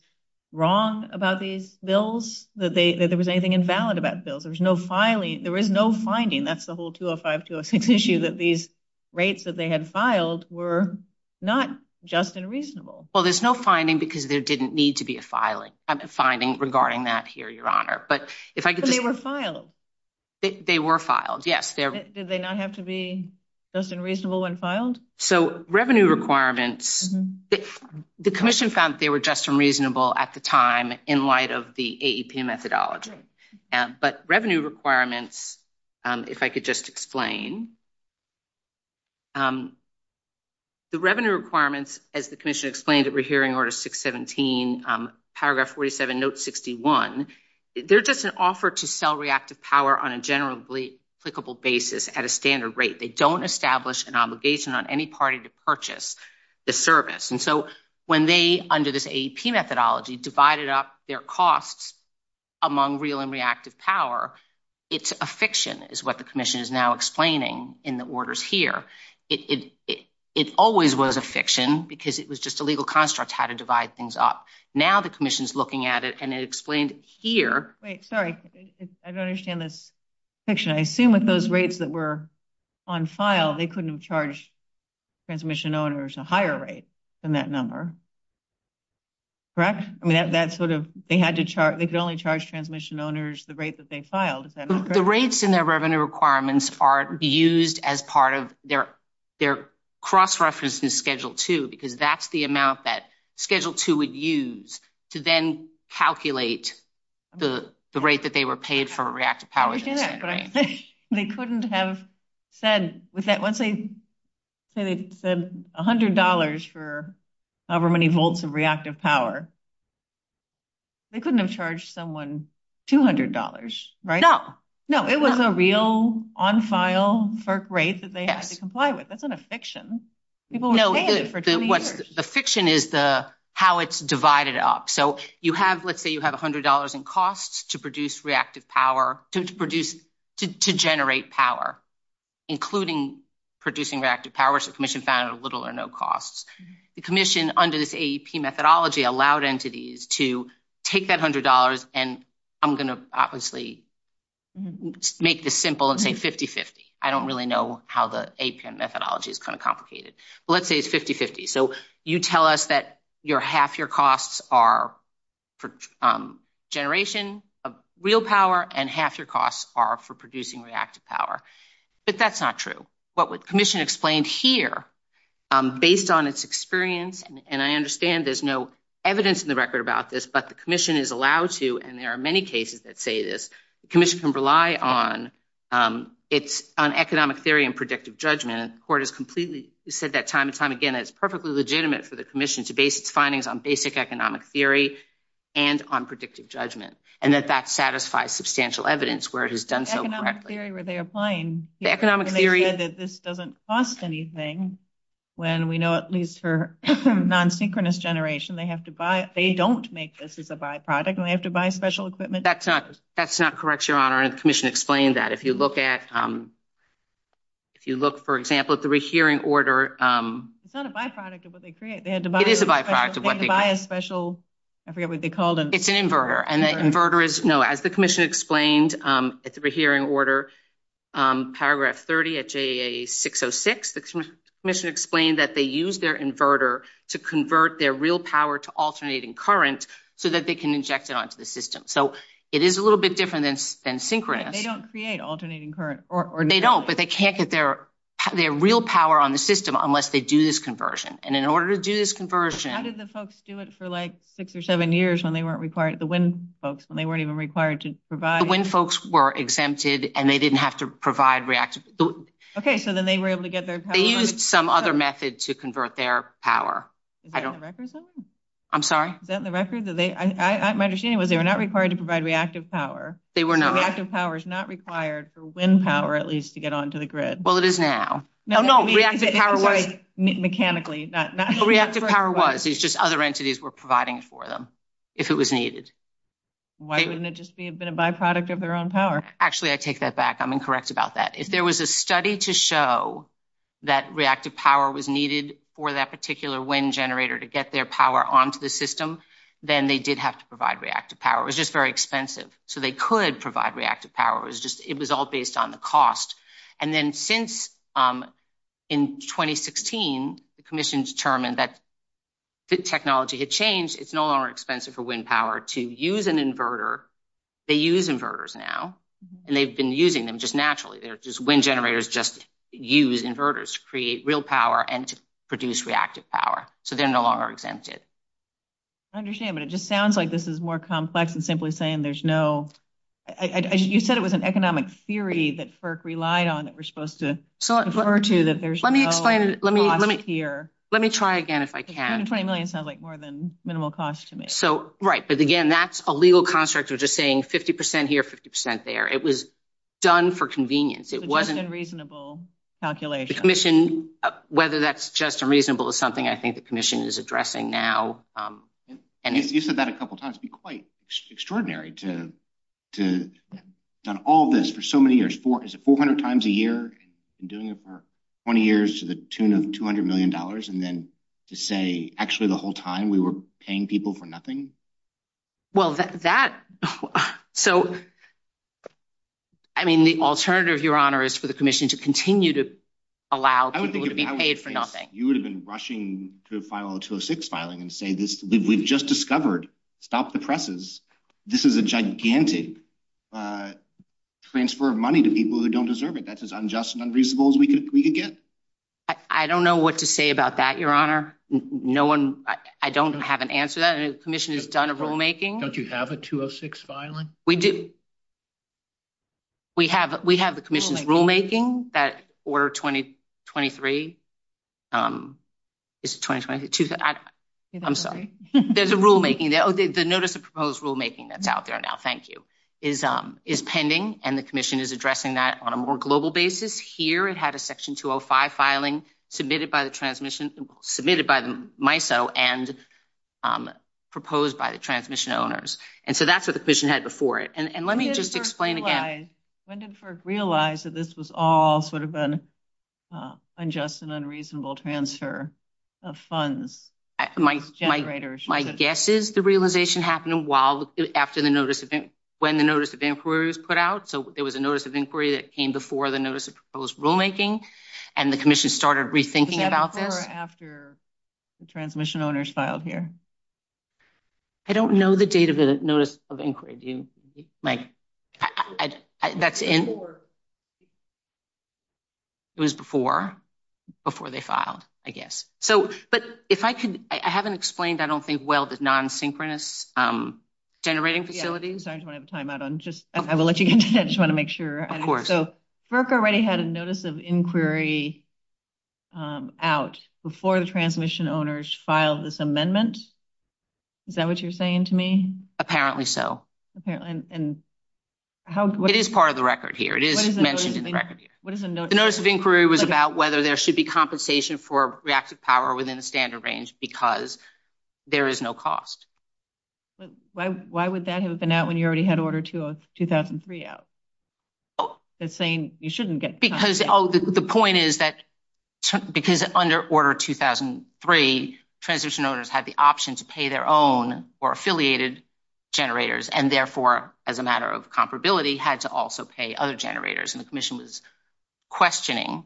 wrong about these bills, that there was anything invalid about the bills. There's no filing. There is no finding. That's the whole 205, 206 issue, that these rates that they had filed were not just and reasonable. Well, there's no finding because there didn't need to be a filing – a finding regarding that here, Your Honor. But if I could say – But they were filed. They were filed, yes. Did they not have to be just and reasonable when filed? So revenue requirements, the Commission found that they were just and reasonable at the time in light of the AEP methodology. But revenue requirements, if I could just explain. The revenue requirements, as the Commission explained that we're hearing, Order 617, Paragraph 47, Note 61, they're just an offer to sell reactive power on a generally applicable basis at a standard rate. They don't establish an obligation on any party to purchase the service. And so when they, under this AEP methodology, divided up their costs among real and reactive power, it's a fiction is what the Commission is now explaining in the orders here. It always was a fiction because it was just a legal construct how to divide things up. Now the Commission is looking at it, and it explained here – Wait, sorry. I don't understand this fiction. I assume with those rates that were on file, they couldn't have charged transmission owners a higher rate than that number. Correct? I mean, that's sort of – they had to charge – they could only charge transmission owners the rate that they filed. The rates in their revenue requirements are used as part of their cross-reference in Schedule 2 because that's the amount that Schedule 2 would use to then calculate the rate that they were paid for reactive power. They couldn't have said – once they said $100 for however many volts of reactive power, they couldn't have charged someone $200, right? No. No, it was a real, on-file FERC rate that they had to comply with. That's not a fiction. No, the fiction is how it's divided up. So you have – let's say you have $100 in costs to produce reactive power – to generate power, including producing reactive power, so the Commission found it at little or no costs. The Commission, under this AEP methodology, allowed entities to take that $100, and I'm going to obviously make this simple and say 50-50. I don't really know how the AEP methodology is kind of complicated. Let's say it's 50-50. So you tell us that half your costs are for generation of real power and half your costs are for producing reactive power. But that's not true. What the Commission explained here, based on its experience, and I understand there's no evidence in the record about this, but the Commission is allowed to, and there are many cases that say this, the Commission can rely on economic theory and predictive judgment. And the Court has completely said that time and time again. It's perfectly legitimate for the Commission to base its findings on basic economic theory and on predictive judgment, and that that satisfies substantial evidence where it has done so correctly. Economic theory, were they applying? Economic theory – They said that this doesn't cost anything when we know, at least for non-synchronous generation, they don't make this as a byproduct and they have to buy special equipment. That's not correct, Your Honor, and the Commission explained that. If you look at – if you look, for example, at the rehearing order – It's not a byproduct of what they create. It is a byproduct of what they create. They have to buy a special – I forget what they call them. It's an inverter. And the inverter is – no, as the Commission explained at the rehearing order, paragraph 30 at JAA 606, the Commission explained that they use their inverter to convert their real power to alternating current so that they can inject it onto the system. So it is a little bit different than synchronous. They don't create alternating current or – They don't, but they can't get their real power on the system unless they do this conversion. And in order to do this conversion – How did the folks do it for, like, six or seven years when they weren't required – the WIND folks, when they weren't even required to provide – The WIND folks were exempted and they didn't have to provide reactive – Okay, so then they were able to get their power – They used some other method to convert their power. Is that in the records then? I'm sorry? Is that in the records? My understanding was they were not required to provide reactive power. They were not. Reactive power is not required for WIND power, at least, to get onto the grid. Well, it is now. No, no. Reactive power was – Mechanically. Reactive power was. It's just other entities were providing it for them if it was needed. Why wouldn't it just be a bit of a byproduct of their own power? Actually, I take that back. I'm incorrect about that. If there was a study to show that reactive power was needed for that particular WIND generator to get their power onto the system, then they did have to provide reactive power. It was just very expensive. So, they could provide reactive power. It was all based on the cost. And then, since in 2016, the commission determined that technology had changed. It's no longer expensive for WIND power to use an inverter. They use inverters now, and they've been using them just naturally. WIND generators just use inverters to create real power and to produce reactive power. So, they're no longer exempted. I understand. But it just sounds like this is more complex than simply saying there's no – You said it was an economic theory that FERC relied on that we're supposed to refer to. Let me try again if I can. $220 million sounds like more than minimal cost to me. Right. But again, that's a legal construct of just saying 50% here, 50% there. It was done for convenience. It wasn't a reasonable calculation. The commission – whether that's just unreasonable is something I think the commission is addressing now. You said that a couple times. It would be quite extraordinary to have done all this for so many years. Is it 400 times a year and doing it for 20 years to the tune of $200 million and then to say actually the whole time we were paying people for nothing? Well, that – so, I mean, the alternative, Your Honor, is for the commission to continue to allow people to be paid for nothing. You would have been rushing to file a 206 filing and say we've just discovered, stop the presses, this is a gigantic transfer of money to people who don't deserve it. That's as unjust and unreasonable as we could get. I don't know what to say about that, Your Honor. No one – I don't have an answer to that. The commission has done a rulemaking. Don't you have a 206 filing? We do. We have the commission's rulemaking, that Order 2023. Is it 2023? I'm sorry. There's a rulemaking. The notice of proposed rulemaking that's out there now, thank you, is pending, and the commission is addressing that on a more global basis. Here it had a Section 205 filing submitted by the transmission – submitted by the MISO and proposed by the transmission owners. And so that's what the commission had before it. And let me just explain again. When did FERC realize that this was all sort of an unjust and unreasonable transfer of funds? My guess is the realization happened a while after the notice – when the notice of inquiry was put out. So there was a notice of inquiry that came before the notice of proposed rulemaking, and the commission started rethinking it out there. When did it occur after the transmission owners filed here? I don't know the date of the notice of inquiry. It was before they filed, I guess. So – but if I can – I haven't explained, I don't think, well, the non-synchronous generating facility. Yeah, I'm sorry. Do you want to have a timeout? I will let you continue. I just want to make sure. Of course. So FERC already had a notice of inquiry out before the transmission owners filed this amendment? Is that what you're saying to me? Apparently so. And how – It is part of the record here. It is mentioned in the record here. What is the notice of inquiry? The notice of inquiry was about whether there should be compensation for reactive power within the standard range because there is no cost. Why would that have been out when you already had Order 2003 out? That's saying you shouldn't get compensation. Oh, the point is that because under Order 2003, transmission owners had the option to pay their own or affiliated generators, and therefore, as a matter of comparability, had to also pay other generators. And the commission was questioning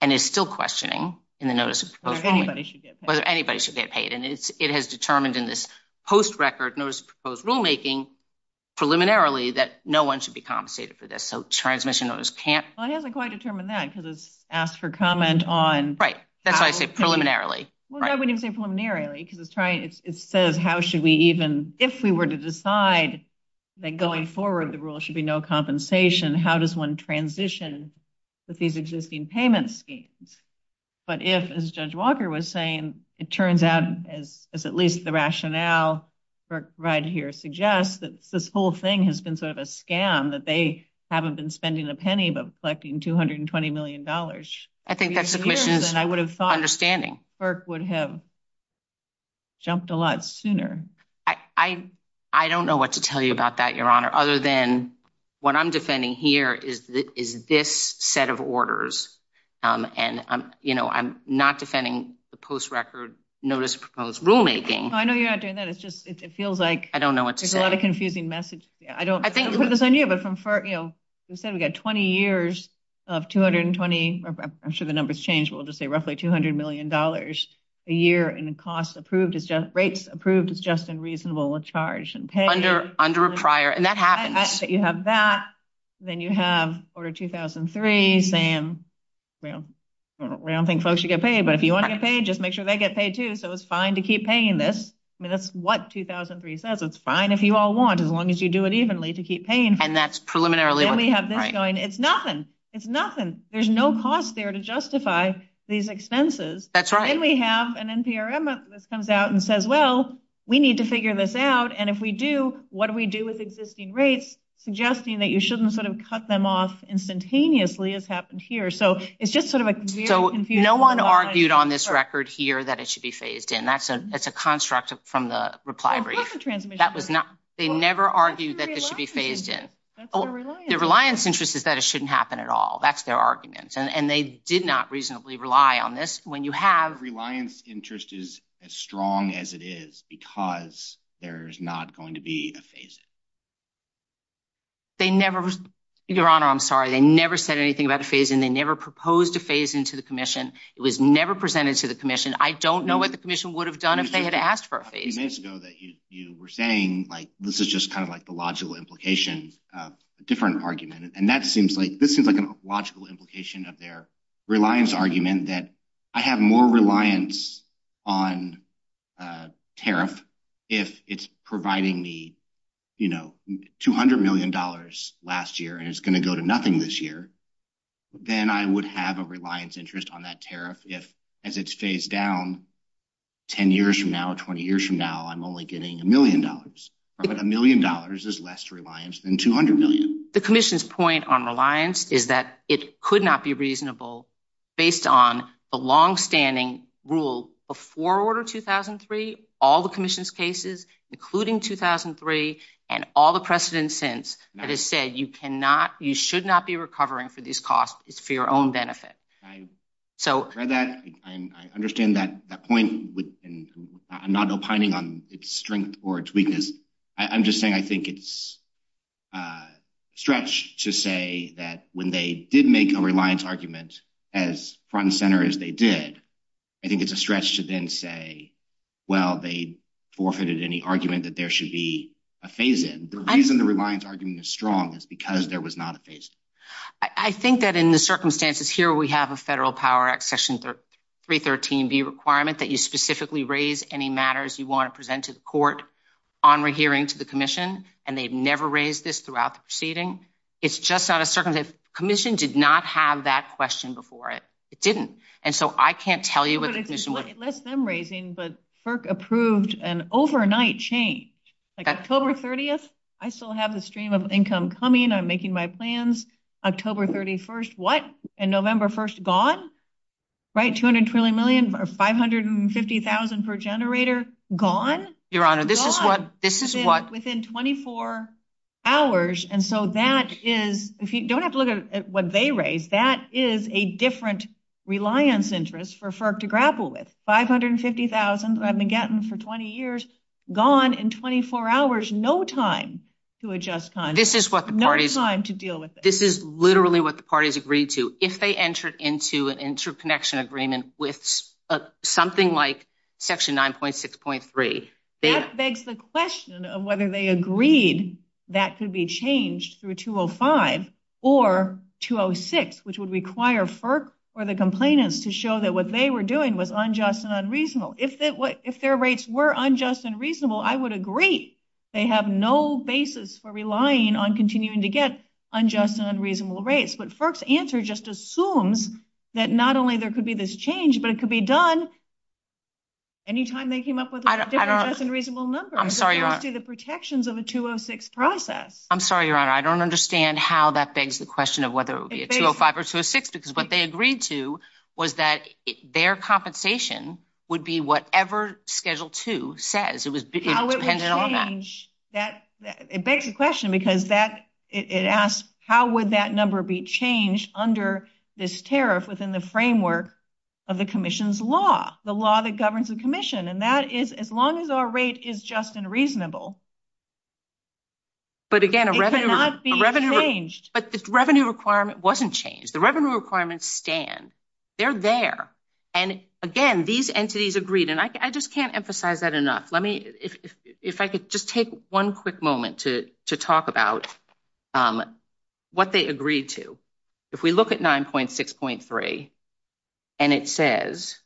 and is still questioning in the notice of inquiry whether anybody should get paid. And it has determined in this post-record notice of proposed rulemaking preliminarily that no one should be compensated for this. So transmission owners can't – Well, it hasn't quite determined that because it's asked for comment on – Right. That's why I say preliminarily. Well, I wouldn't say preliminarily because it says how should we even – if we were to decide that going forward the rule should be no compensation, how does one transition with these existing payment schemes? But if, as Judge Walker was saying, it turns out, as at least the rationale right here suggests, that this whole thing has been sort of a scam, that they haven't been spending a penny but collecting $220 million. I think that's the question. And I would have thought – Understanding. FERC would have jumped a lot sooner. I don't know what to tell you about that, Your Honor, other than what I'm defending here is this set of orders. And, you know, I'm not defending the post-record notice of proposed rulemaking. I know you're not doing that. It's just it feels like – I don't know what to say. There's a lot of confusing messages. I don't – I think – I'll put this on you. But from FERC, you know, you said we've got 20 years of 220 – I'm sure the numbers change, but we'll just say roughly $200 million a year in costs approved – rates approved as just and reasonable with charge and pay. Under a prior. And that happens. You have that. Then you have Order 2003 saying we don't think folks should get paid, but if you want to get paid, just make sure they get paid, too, so it's fine to keep paying this. I mean, that's what 2003 says. It's fine if you all want as long as you do it evenly to keep paying. And that's preliminarily – Then we have this going. It's nothing. It's nothing. There's no cost there to justify these expenses. That's right. Then we have an NPRM that comes out and says, well, we need to figure this out, and if we do, what do we do with existing rates, suggesting that you shouldn't sort of cut them off instantaneously as happened here. So it's just sort of a very confusing – So no one argued on this record here that it should be phased in. That's a construct from the reply brief. That was not – they never argued that it should be phased in. The reliance interest is that it shouldn't happen at all. That's their argument. And they did not reasonably rely on this. When you have – The reliance interest is as strong as it is because there's not going to be a phase-in. They never – Your Honor, I'm sorry. They never said anything about a phase-in. They never proposed a phase-in to the commission. It was never presented to the commission. I don't know what the commission would have done if they had asked for a phase-in. You were saying, like, this is just kind of like the logical implication of a different argument. And that seems like – this seems like a logical implication of their reliance argument, that I have more reliance on tariff if it's providing me, you know, $200 million last year and it's going to go to nothing this year, then I would have a reliance interest on that tariff. If, as it's phased down, 10 years from now, 20 years from now, I'm only getting $1 million. But $1 million is less reliance than $200 million. The commission's point on reliance is that it could not be reasonable, based on the longstanding rule before Order 2003, all the commission's cases, including 2003, and all the precedents since, that it said you cannot – you should not be recovering for these costs. It's for your own benefit. I understand that point. I'm not opining on its strength or its weakness. I'm just saying I think it's stretched to say that when they did make a reliance argument as front and center as they did, I think it's a stretch to then say, well, they forfeited any argument that there should be a phase-in. The reason the reliance argument is strong is because there was not a phase-in. I think that in the circumstances here, we have a Federal Power Act Section 313B requirement that you specifically raise any matters you want to present to the court on rehearing to the commission, and they've never raised this throughout the proceeding. It's just out of circumstance. The commission did not have that question before. It didn't. And so I can't tell you what the commission was – But FERC approved an overnight change. October 30th, I still have the stream of income coming. I'm making my plans. October 31st, what? And November 1st, gone? Right, $250,000 for a generator, gone? Your Honor, this is what – Within 24 hours, and so that is – don't have to look at what they raised. That is a different reliance interest for FERC to grapple with. $550,000 for 20 years, gone in 24 hours. No time to adjust time. This is what the parties – No time to deal with it. This is literally what the parties agreed to. If they entered into an interconnection agreement with something like Section 9.6.3 – That begs the question of whether they agreed that could be changed through 205 or 206, which would require FERC or the complainants to show that what they were doing was unjust and unreasonable. If their rates were unjust and reasonable, I would agree. They have no basis for relying on continuing to get unjust and unreasonable rates. But FERC's answer just assumes that not only there could be this change, but it could be done – Anytime they came up with an unjust and unreasonable number. I'm sorry, Your Honor. It's actually the protections of a 206 process. I'm sorry, Your Honor. I don't understand how that begs the question of whether it would be a 205 or 206, because what they agreed to was that their compensation would be whatever Schedule 2 says. It was dependent on that. It begs the question because that – it asks how would that number be changed under this tariff within the framework of the Commission's law? The law that governs the Commission. And that is as long as our rate is just and reasonable, it cannot be changed. But, again, a revenue requirement wasn't changed. The revenue requirements stand. They're there. And, again, these entities agreed. And I just can't emphasize that enough. Let me – if I could just take one quick moment to talk about what they agreed to. If we look at 9.6.3 and it says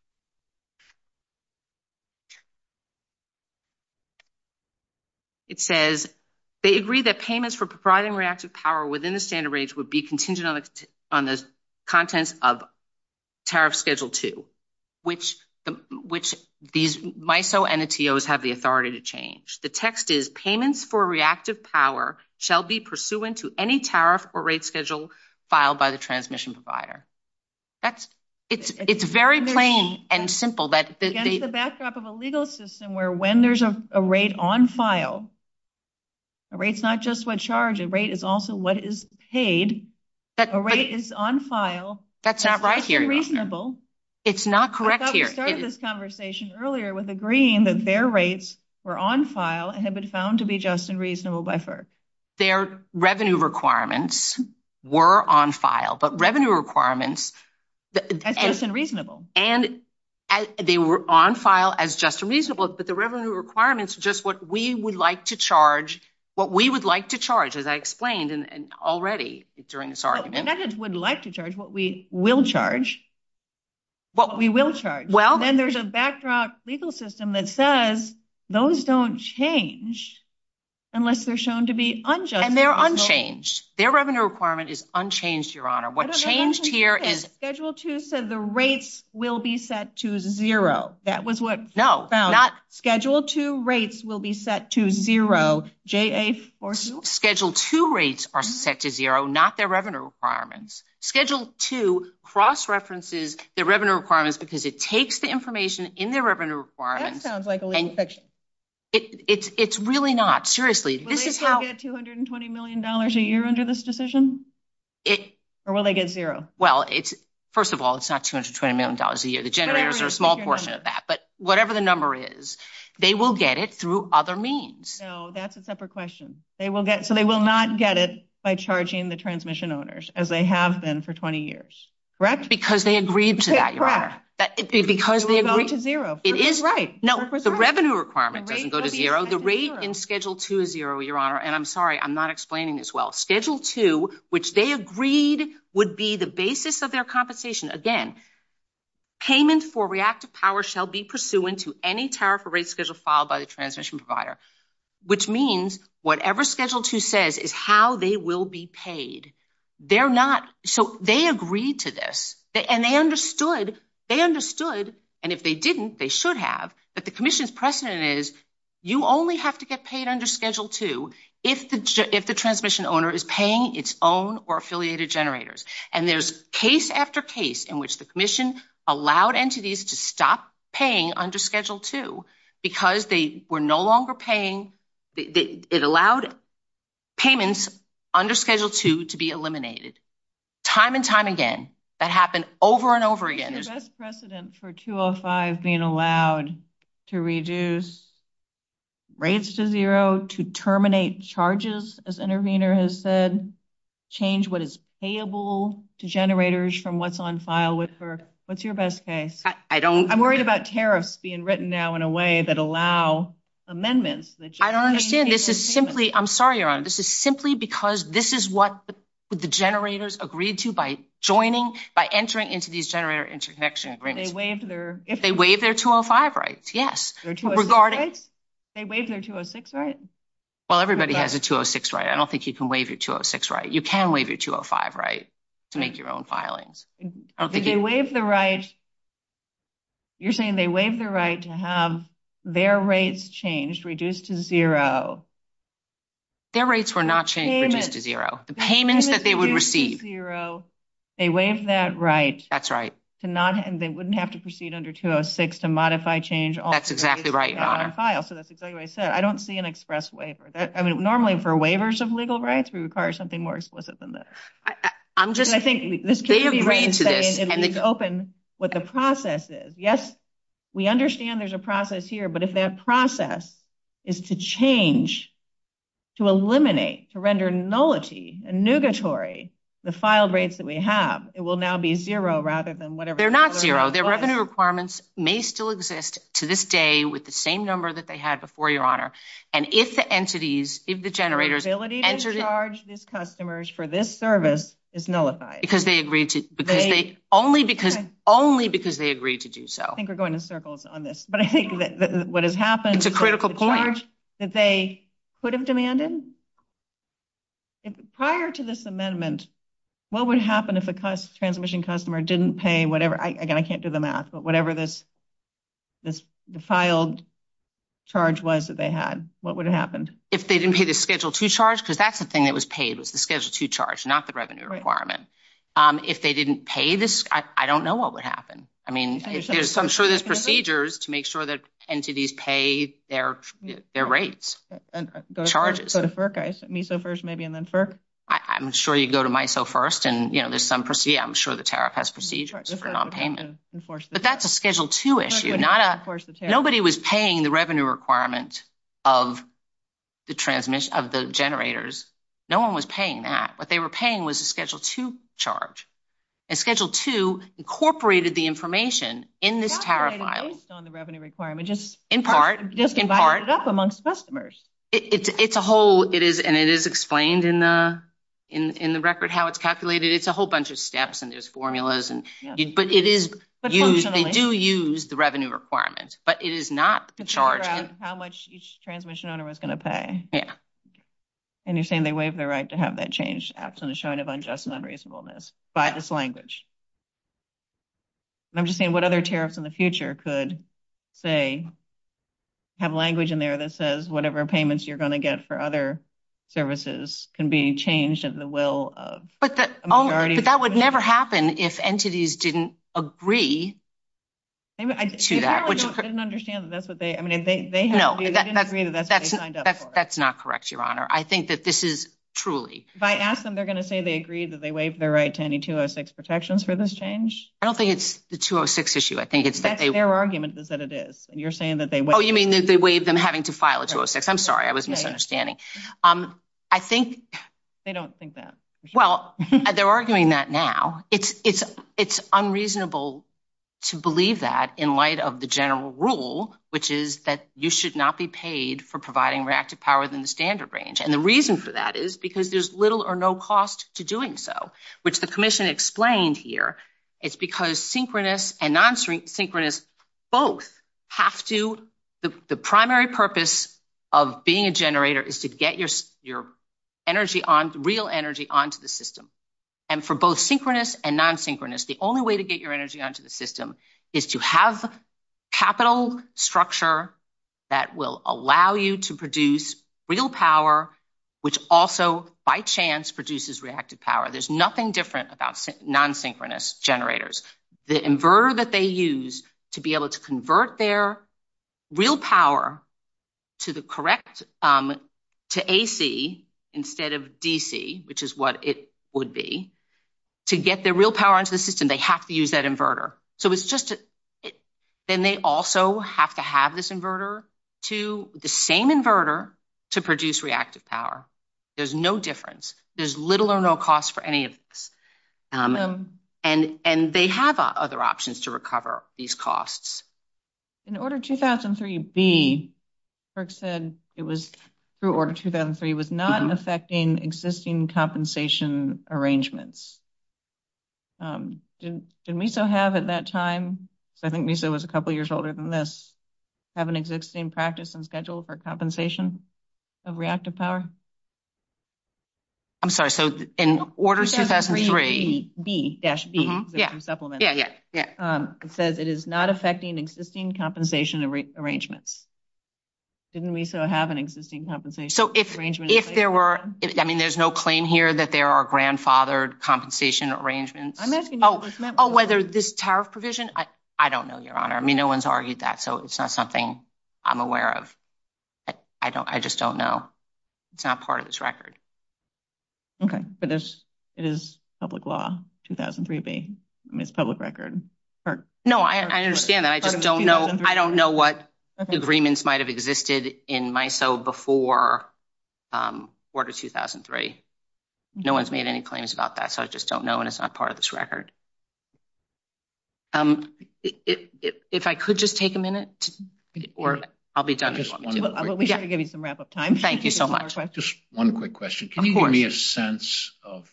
– it says they agreed that payments for providing reactive power within the standard range would be contingent on the contents of Tariff Schedule 2, which these MISO NTOs have the authority to change. The text is, payments for reactive power shall be pursuant to any tariff or rates schedule filed by the transmission provider. It's very plain and simple. Again, it's a backdrop of a legal system where when there's a rate on file, a rate's not just what's charged. A rate is also what is paid. A rate is on file. That's not right here. It's reasonable. It's not correct here. They started this conversation earlier with agreeing that their rates were on file and had been found to be just and reasonable by FERC. Their revenue requirements were on file. But revenue requirements – That's just and reasonable. And they were on file as just and reasonable. But the revenue requirements are just what we would like to charge – what we would like to charge, as I explained already during this argument. We would like to charge what we will charge. What we will charge. And then there's a backdrop legal system that says those don't change unless they're shown to be unjustified. And they're unchanged. Their revenue requirement is unchanged, Your Honor. What changed here is – Schedule 2 said the rates will be set to zero. That was what was found. No, not – Schedule 2 rates will be set to zero. Schedule 2 rates are set to zero, not their revenue requirements. Schedule 2 cross-references their revenue requirements because it takes the information in their revenue requirements – That sounds like a legal section. It's really not. Will they still get $220 million a year under this decision? Or will they get zero? Well, first of all, it's not $220 million a year. The generators are a small portion of that. But whatever the number is, they will get it through other means. No, that's a separate question. So they will not get it by charging the transmission owners, as they have been for 20 years. That's because they agreed to that, Your Honor. Because they agreed to zero. It is right. No, the revenue requirement doesn't go to zero. The rate in Schedule 2 is zero, Your Honor. And I'm sorry, I'm not explaining this well. Schedule 2, which they agreed would be the basis of their compensation. Again, payment for reactive power shall be pursuant to any tariff or rate schedule filed by the transmission provider. Which means whatever Schedule 2 says is how they will be paid. They're not. So they agreed to this. And they understood. They understood. And if they didn't, they should have. But the commission's precedent is you only have to get paid under Schedule 2 if the transmission owner is paying its own or affiliated generators. And there's case after case in which the commission allowed entities to stop paying under Schedule 2 because they were no longer paying. It allowed payments under Schedule 2 to be eliminated. Time and time again. That happened over and over again. Is there a best precedent for 205 being allowed to reduce rates to zero, to terminate charges, as intervener has said, change what is payable to generators from what's on file? What's your best case? I'm worried about tariffs being written now in a way that allow amendments. I don't understand. This is simply ‑‑ I'm sorry, Your Honor. If they waive their 205 rights. Yes. They waive their 206 rights? Well, everybody has a 206 right. I don't think you can waive your 206 right. You can waive your 205 right to make your own filings. If they waive the right, you're saying they waive the right to have their rates changed, reduced to zero. Their rates were not changed to zero. The payments that they would receive. They waive that right. That's right. They wouldn't have to proceed under 206 to modify change. That's exactly right, Your Honor. I don't see an express waiver. Normally, for waivers of legal rights, we require something more explicit than this. They agreed to this. They're not zero. Their revenue requirements may still exist to this day with the same number that they had before, Your Honor. The ability to charge these customers for this service is nullified. Only because they agreed to do so. I think we're going in circles on this. It's a critical point. Prior to this amendment, what would happen if a transmission customer didn't pay whatever this filed charge was that they had? What would have happened? If they didn't pay the Schedule II charge, because that's the thing that was paid was the Schedule II charge, not the revenue requirement. If they didn't pay this, I don't know what would happen. I mean, I'm sure there's procedures to make sure that entities pay their rates. I'm sure you go to MISO first. Yeah, I'm sure the tariff has procedures for nonpayment. But that's a Schedule II issue. Nobody was paying the revenue requirement of the generators. No one was paying that. What they were paying was a Schedule II charge. And Schedule II incorporated the information in this tariff file. Based on the revenue requirement. In part. Just divided it up amongst customers. And it is explained in the record how it's calculated. It's a whole bunch of steps and there's formulas. But it is used. They do use the revenue requirements. But it is not the charge. How much each transmission owner was going to pay. Yeah. And you're saying they waive their right to have that change. Absolutely. A sign of unjust and unreasonableness. By this language. And I'm just saying what other tariffs in the future could, say, have language in there that says whatever payments you're going to get for other services can be changed at the will of a majority. But that would never happen if entities didn't agree to that. I didn't understand that. That's what they. I mean, they. No. They didn't agree that that's what they signed up for. That's not correct, Your Honor. I think that this is truly. If I ask them, they're going to say they agree that they waive their right to any 206 protections for this change? I don't think it's the 206 issue. I think it's that they. Their argument is that it is. And you're saying that they. Oh, you mean that they waive them having to file a 206. I'm sorry. I was misunderstanding. I think. They don't think that. Well, they're arguing that now. It's unreasonable to believe that in light of the general rule, which is that you should not be paid for providing reactive powers in the standard range. And the reason for that is because there's little or no cost to doing so, which the commission explained here. It's because synchronous and non-synchronous both have to. The primary purpose of being a generator is to get your energy, real energy, onto the system. And for both synchronous and non-synchronous, the only way to get your energy onto the system is to have capital structure that will allow you to produce real power, which also, by chance, produces reactive power. There's nothing different about non-synchronous generators. The inverter that they use to be able to convert their real power to the correct, to AC instead of DC, which is what it would be, to get their real power into the system, they have to use that inverter. So it's just. Then they also have to have this inverter to the same inverter to produce reactive power. There's no difference. There's little or no cost for any of this. And they have other options to recover these costs. In Order 2003B, Kirk said it was, through Order 2003, was not affecting existing compensation arrangements. Did MESA have at that time, I think MESA was a couple years older than this, have an existing practice and schedule for compensation of reactive power? I'm sorry. So, in Order 2003B-B, which is supplemented, it says it is not affecting existing compensation arrangements. Didn't MESA have an existing compensation arrangement? So, if there were, I mean, there's no claim here that there are grandfathered compensation arrangements. Oh, whether this tariff provision, I don't know, Your Honor. I mean, no one's argued that, so it's not something I'm aware of. I just don't know. It's not part of this record. Okay. So, this is public law, 2003B. I mean, it's public record. No, I understand that. I just don't know. I don't know what agreements might have existed in MISO before Order 2003. No one's made any claims about that, so I just don't know, and it's not part of this record. If I could just take a minute, or I'll be done. I'm going to give you some wrap-up time. Thank you so much. Just one quick question. Can you give me a sense of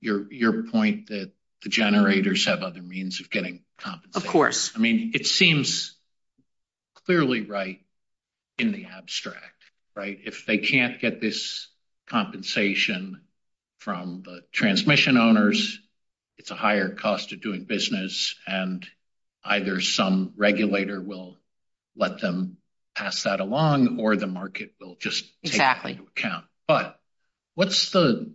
your point that the generators have other means of getting compensation? Of course. I mean, it seems clearly right in the abstract, right? If they can't get this compensation from the transmission owners, it's a higher cost of doing business, and either some regulator will let them pass that along, or the market will just take that into account. But what's the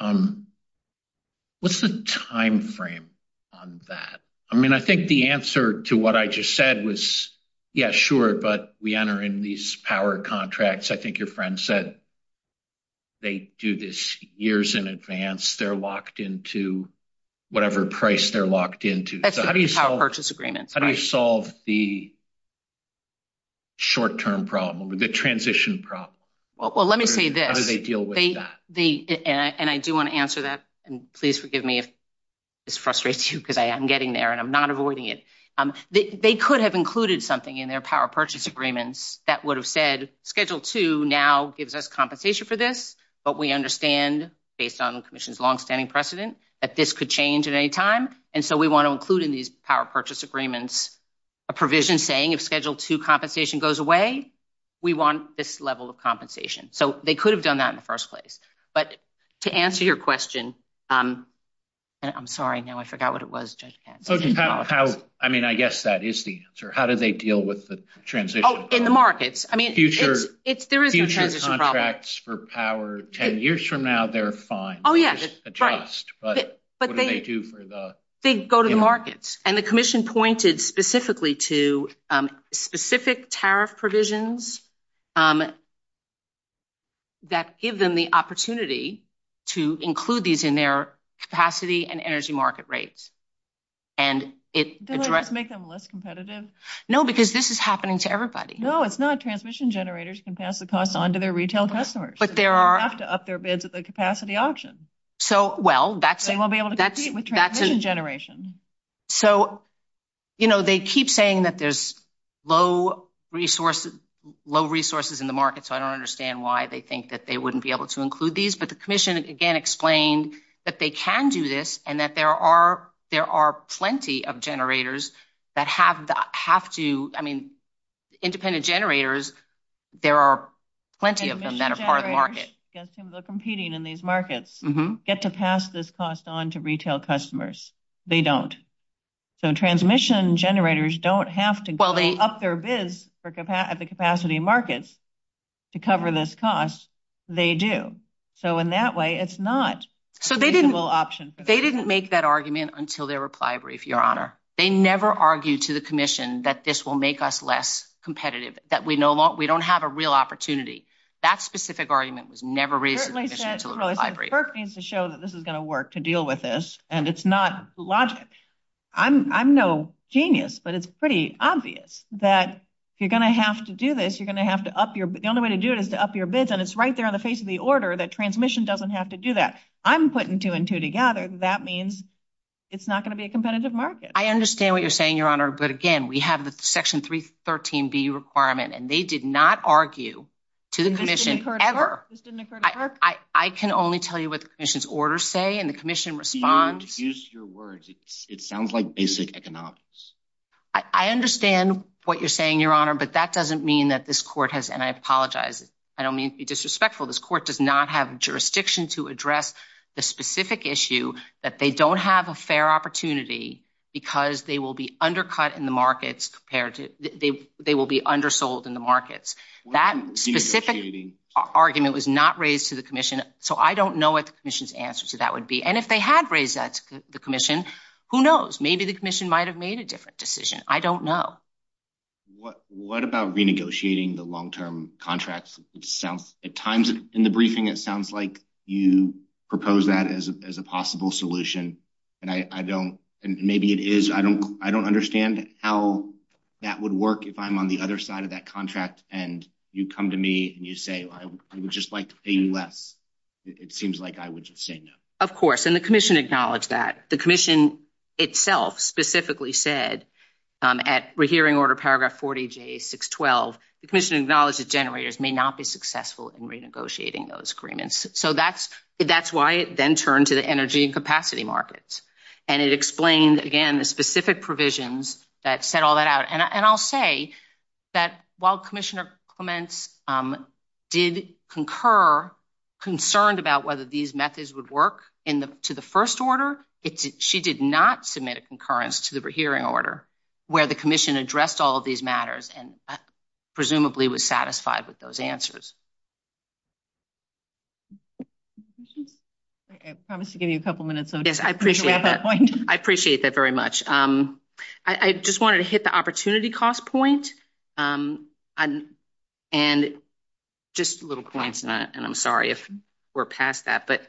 timeframe on that? I mean, I think the answer to what I just said was, yeah, sure, but we enter in these power contracts. I think your friend said they do this years in advance. They're locked into whatever price they're locked into. That's just a power purchase agreement. How do you solve the short-term problem, the transition problem? Well, let me say this. How do they deal with that? And I do want to answer that, and please forgive me if this frustrates you, because I am getting there, and I'm not avoiding it. They could have included something in their power purchase agreements that would have said, Schedule II now gives us compensation for this, but we understand, based on the commission's longstanding precedent, that this could change at any time, and so we want to include in these power purchase agreements a provision saying, if Schedule II compensation goes away, we want this level of compensation. So they could have done that in the first place. But to answer your question, and I'm sorry. I know. I forgot what it was. I mean, I guess that is the answer. How do they deal with the transition? Oh, in the markets. There is a transition problem. Future contracts for power 10 years from now, they're fine. Oh, yeah. Just adjust. But what do they do for the ______? They go to the markets. And the commission pointed specifically to specific tariff provisions that give them the opportunity to include these in their capacity and energy market rates. Did they just make them less competitive? No, because this is happening to everybody. No, it's not. Transmission generators can pass the cost on to their retail customers. But there are ______ up their bids at the capacity auction. So, well, that's ______. They won't be able to compete with transmission generation. So, you know, they keep saying that there's low resources in the market, so I don't understand why they think that they wouldn't be able to include these. But the commission, again, explained that they can do this and that there are plenty of generators that have to ______. I mean, independent generators, there are plenty of them that are part of the market. ______ are competing in these markets. Get to pass this cost on to retail customers. They don't. So, transmission generators don't have to ______ up their bids at the capacity markets to cover this cost. They do. So, in that way, it's not ______ option. They didn't make that argument until their reply brief, Your Honor. They never argued to the commission that this will make us less competitive, that we don't have a real opportunity. That specific argument was never ______. FERC needs to show that this is going to work to deal with this, and it's not logical. I'm no genius, but it's pretty obvious that you're going to have to do this. You're going to have to up your ______. The only way to do it is to up your bids, and it's right there in the face of the order that transmission doesn't have to do that. I'm putting two and two together. That means it's not going to be a competitive market. I understand what you're saying, Your Honor. But, again, we have the Section 313B requirement, and they did not argue to the commission ever. I can only tell you what the commission's orders say, and the commission responds. Use your words. It sounds like basic economics. I understand what you're saying, Your Honor, but that doesn't mean that this court has ______. I don't mean to be disrespectful. This court does not have jurisdiction to address the specific issue that they don't have a fair opportunity because they will be undercut in the markets. They will be undersold in the markets. That specific argument was not raised to the commission, so I don't know what the commission's answer to that would be. And if they had raised that to the commission, who knows? Maybe the commission might have made a different decision. I don't know. What about renegotiating the long-term contracts? At times in the briefing, it sounds like you propose that as a possible solution, and maybe it is. I don't understand how that would work if I'm on the other side of that contract, and you come to me, and you say, I would just like to pay less. It seems like I would just say no. Of course, and the commission acknowledged that. The commission itself specifically said at Rehearing Order Paragraph 40J612, the commission acknowledged that generators may not be successful in renegotiating those agreements. So that's why it then turned to the energy and capacity markets. And it explained, again, the specific provisions that set all that out. And I'll say that while Commissioner Clements did concur, concerned about whether these methods would work to the first order, she did not submit a concurrence to the Rehearing Order where the commission addressed all of these matters and presumably was satisfied with those answers. I promise to give you a couple minutes. Yes, I appreciate that. I appreciate that very much. I just wanted to hit the opportunity cost point. And just a little point, and I'm sorry if we're past that, but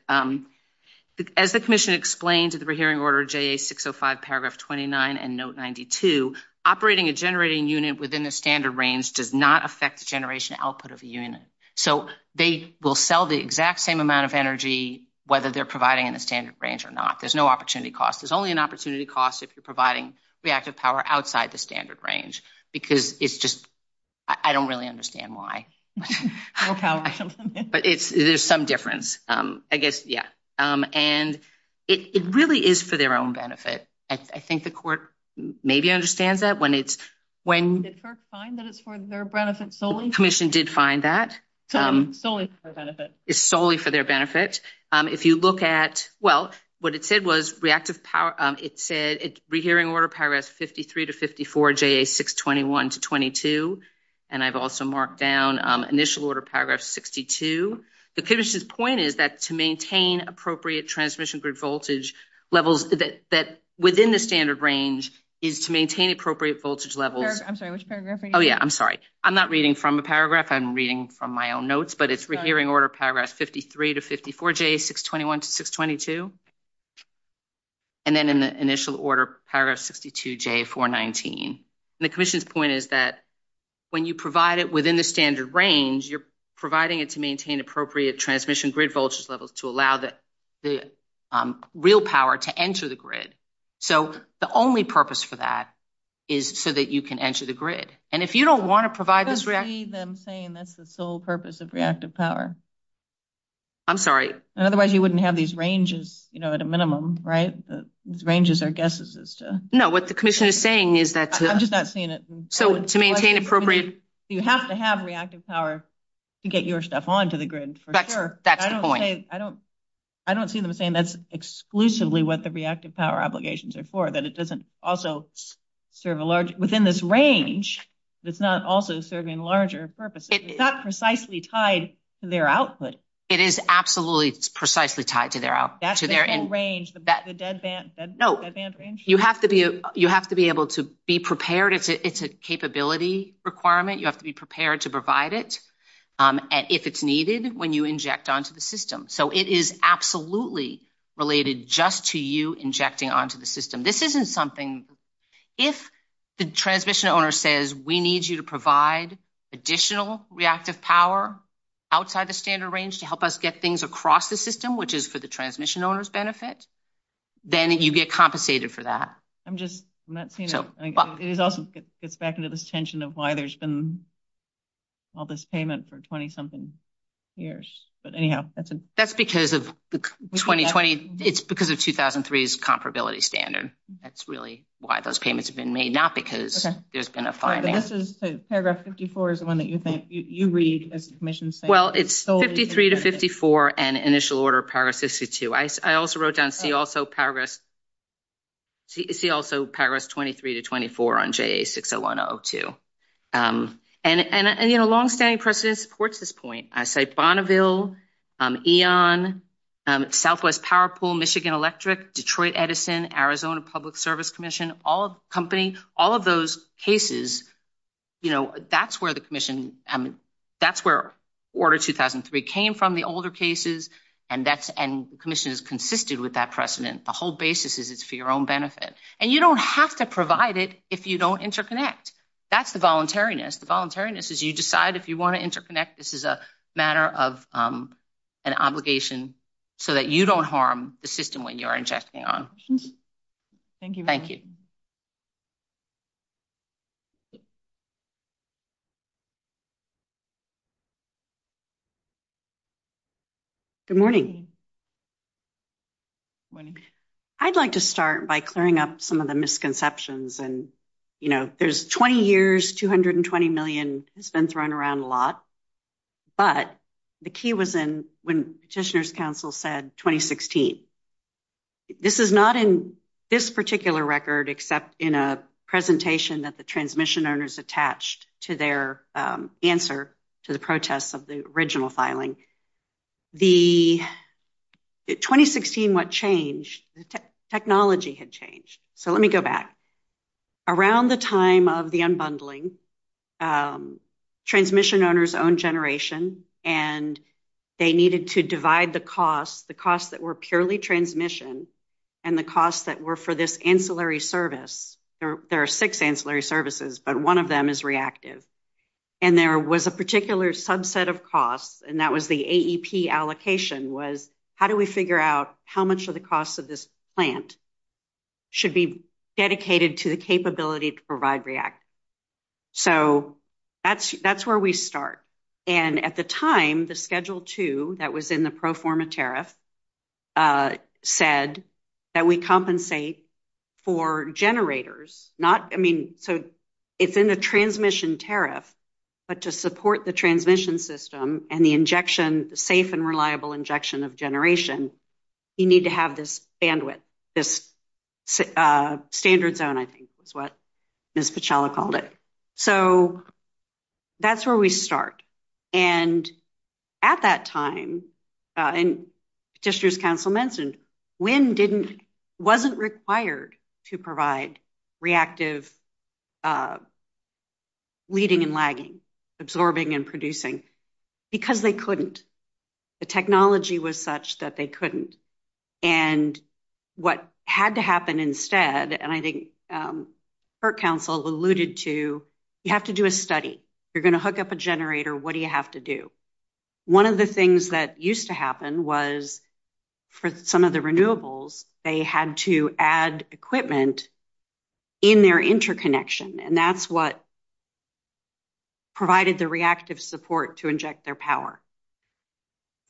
as the commission explained to the Rehearing Order JA605 Paragraph 29 and Note 92, operating a generating unit within the standard range does not affect the generation output of the unit. So they will sell the exact same amount of energy, whether they're providing in the standard range or not. There's no opportunity cost. There's only an opportunity cost if you're providing reactive power outside the standard range. Because it's just, I don't really understand why. There's some difference. I guess, yeah. And it really is for their own benefit. I think the court maybe understands that. Did the court find that it's for their benefit solely? The commission did find that. Solely for their benefit. It's solely for their benefit. If you look at, well, what it said was Reactive Power, it said Rehearing Order Paragraphs 53 to 54, JA621 to 22. And I've also marked down Initial Order Paragraph 62. The commission's point is that to maintain appropriate transmission through voltage levels within the standard range is to maintain appropriate voltage levels. I'm sorry. Which paragraph are you reading? Oh, yeah. I'm sorry. I'm not reading from a paragraph. I'm reading from my own notes. But it's Rehearing Order Paragraph 53 to 54, JA621 to 622. And then in the Initial Order Paragraph 62, JA419. And the commission's point is that when you provide it within the standard range, you're providing it to maintain appropriate transmission grid voltage levels to allow the real power to enter the grid. So the only purpose for that is so that you can enter the grid. And if you don't want to provide this reactive power. I don't see them saying that's the sole purpose of reactive power. I'm sorry. Otherwise, you wouldn't have these ranges, you know, at a minimum, right? These ranges are guesses. No, what the commission is saying is that. I'm just not seeing it. So to maintain appropriate. You have to have reactive power to get your stuff onto the grid for sure. That's the point. I don't see them saying that's exclusively what the reactive power obligations are for. That it doesn't also serve a large, within this range, it's not also serving larger purposes. It's not precisely tied to their output. It is absolutely precisely tied to their output. That's the whole range, the dead band range? No, you have to be able to be prepared. It's a capability requirement. You have to be prepared to provide it if it's needed when you inject onto the system. So it is absolutely related just to you injecting onto the system. This isn't something, if the transmission owner says we need you to provide additional reactive power outside the standard range to help us get things across the system, which is for the transmission owner's benefit, then you get compensated for that. I'm just not seeing it. It also gets back into this tension of why there's been all this payment for 20 something years. That's because of 2020. It's because of 2003's comparability standard. That's really why those payments have been made, not because there's been a fine. Paragraph 54 is the one that you read. Well, it's 53 to 54 and initial order paragraph 52. I also wrote down see also paragraph 23 to 24 on JA60102. And, you know, long-standing precedent supports this point. I say Bonneville, Eon, Southwest Power Pool, Michigan Electric, Detroit Edison, Arizona Public Service Commission, all of the company, all of those cases, you know, that's where the commission, that's where order 2003 came from, the older cases, and commission has consisted with that precedent. The whole basis is it's for your own benefit. And you don't have to provide it if you don't interconnect. That's the voluntariness. The voluntariness is you decide if you want to interconnect. This is a matter of an obligation so that you don't harm the system when you're injecting on. Thank you. Good morning. Morning. I'd like to start by clearing up some of the misconceptions. And, you know, there's 20 years, 220 million has been thrown around a lot. But the key was in when Petitioner's Council said 2016. This is not in this particular record except in a presentation that the transmission owners attached to their answer to the protests of the original filing. The 2016, what changed? Technology had changed. So let me go back. Around the time of the unbundling, transmission owners owned generation, and they needed to divide the costs, the costs that were purely transmission, and the costs that were for this ancillary service. There are six ancillary services, but one of them is reactive. And there was a particular subset of costs, and that was the AEP allocation was how do we figure out how much of the cost of this plant should be dedicated to the capability to provide reactive. So that's where we start. And at the time, the Schedule 2 that was in the pro forma tariff said that we compensate for generators. Not, I mean, so it's in the transmission tariff, but to support the transmission system and the injection, the safe and reliable injection of generation, you need to have this bandwidth, this standard zone, I think is what Ms. Pichella called it. So that's where we start. And at that time, and Patricia's counsel mentioned, WIND wasn't required to provide reactive weeding and lagging, absorbing and producing, because they couldn't. The technology was such that they couldn't. And what had to happen instead, and I think her counsel alluded to, you have to do a study. You're going to hook up a generator. What do you have to do? One of the things that used to happen was for some of the renewables, they had to add equipment in their interconnection, and that's what provided the reactive support to inject their power.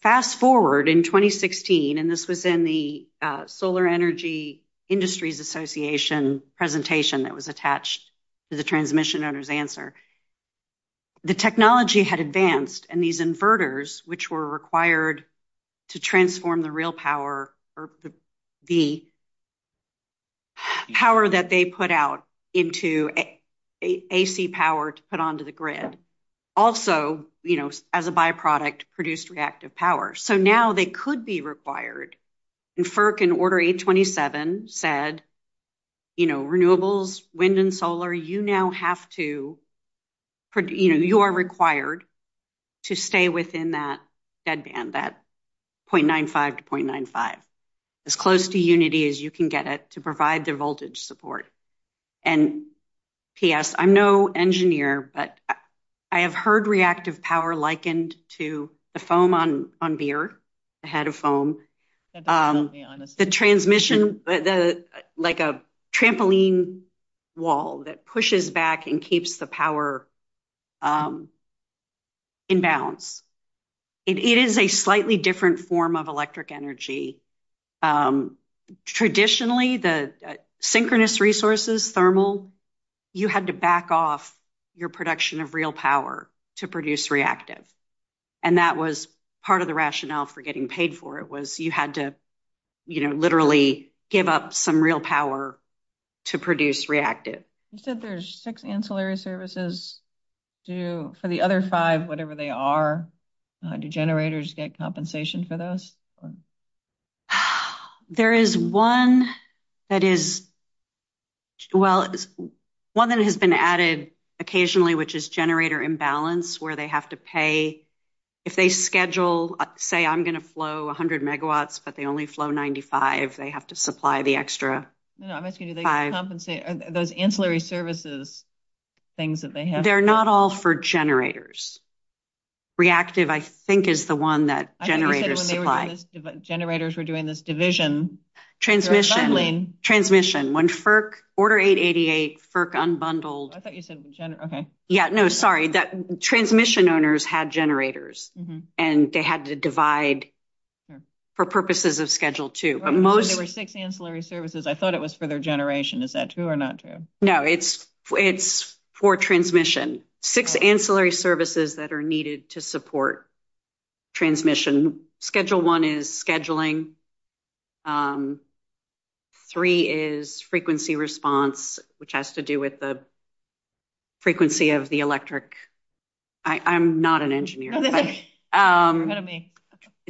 Fast forward in 2016, and this was in the Solar Energy Industries Association presentation that was attached to the transmission owner's answer. The technology had advanced, and these inverters, which were required to transform the real power or the power that they put out into AC power to put onto the grid. Also, as a byproduct, produced reactive power. So now they could be required. And FERC, in Order 827, said renewables, wind and solar, you are required to stay within that bed band, that 0.95 to 0.95, as close to unity as you can get it to provide the voltage support. And P.S., I'm no engineer, but I have heard reactive power likened to the foam on beer, a head of foam. The transmission, like a trampoline wall that pushes back and keeps the power in balance. It is a slightly different form of electric energy. Traditionally, the synchronous resources, thermal, you had to back off your production of real power to produce reactive. And that was part of the rationale for getting paid for it, was you had to literally give up some real power to produce reactive. You said there's six ancillary services. For the other five, whatever they are, do generators get compensation for those? There is one that is – well, one that has been added occasionally, which is generator imbalance, where they have to pay – if they schedule, say, I'm going to flow 100 megawatts, but they only flow 95, they have to supply the extra five. Are those ancillary services things that they have? They're not all for generators. Reactive, I think, is the one that generators supply. Generators were doing this division. Transmission, when FERC – Order 888, FERC unbundled – I thought you said – okay. Yeah, no, sorry. Transmission owners had generators, and they had to divide for purposes of Schedule 2. There were six ancillary services. I thought it was for their generation. Is that true or not true? No, it's for transmission. Six ancillary services that are needed to support transmission. Schedule 1 is scheduling. Three is frequency response, which has to do with the frequency of the electric – I'm not an engineer, but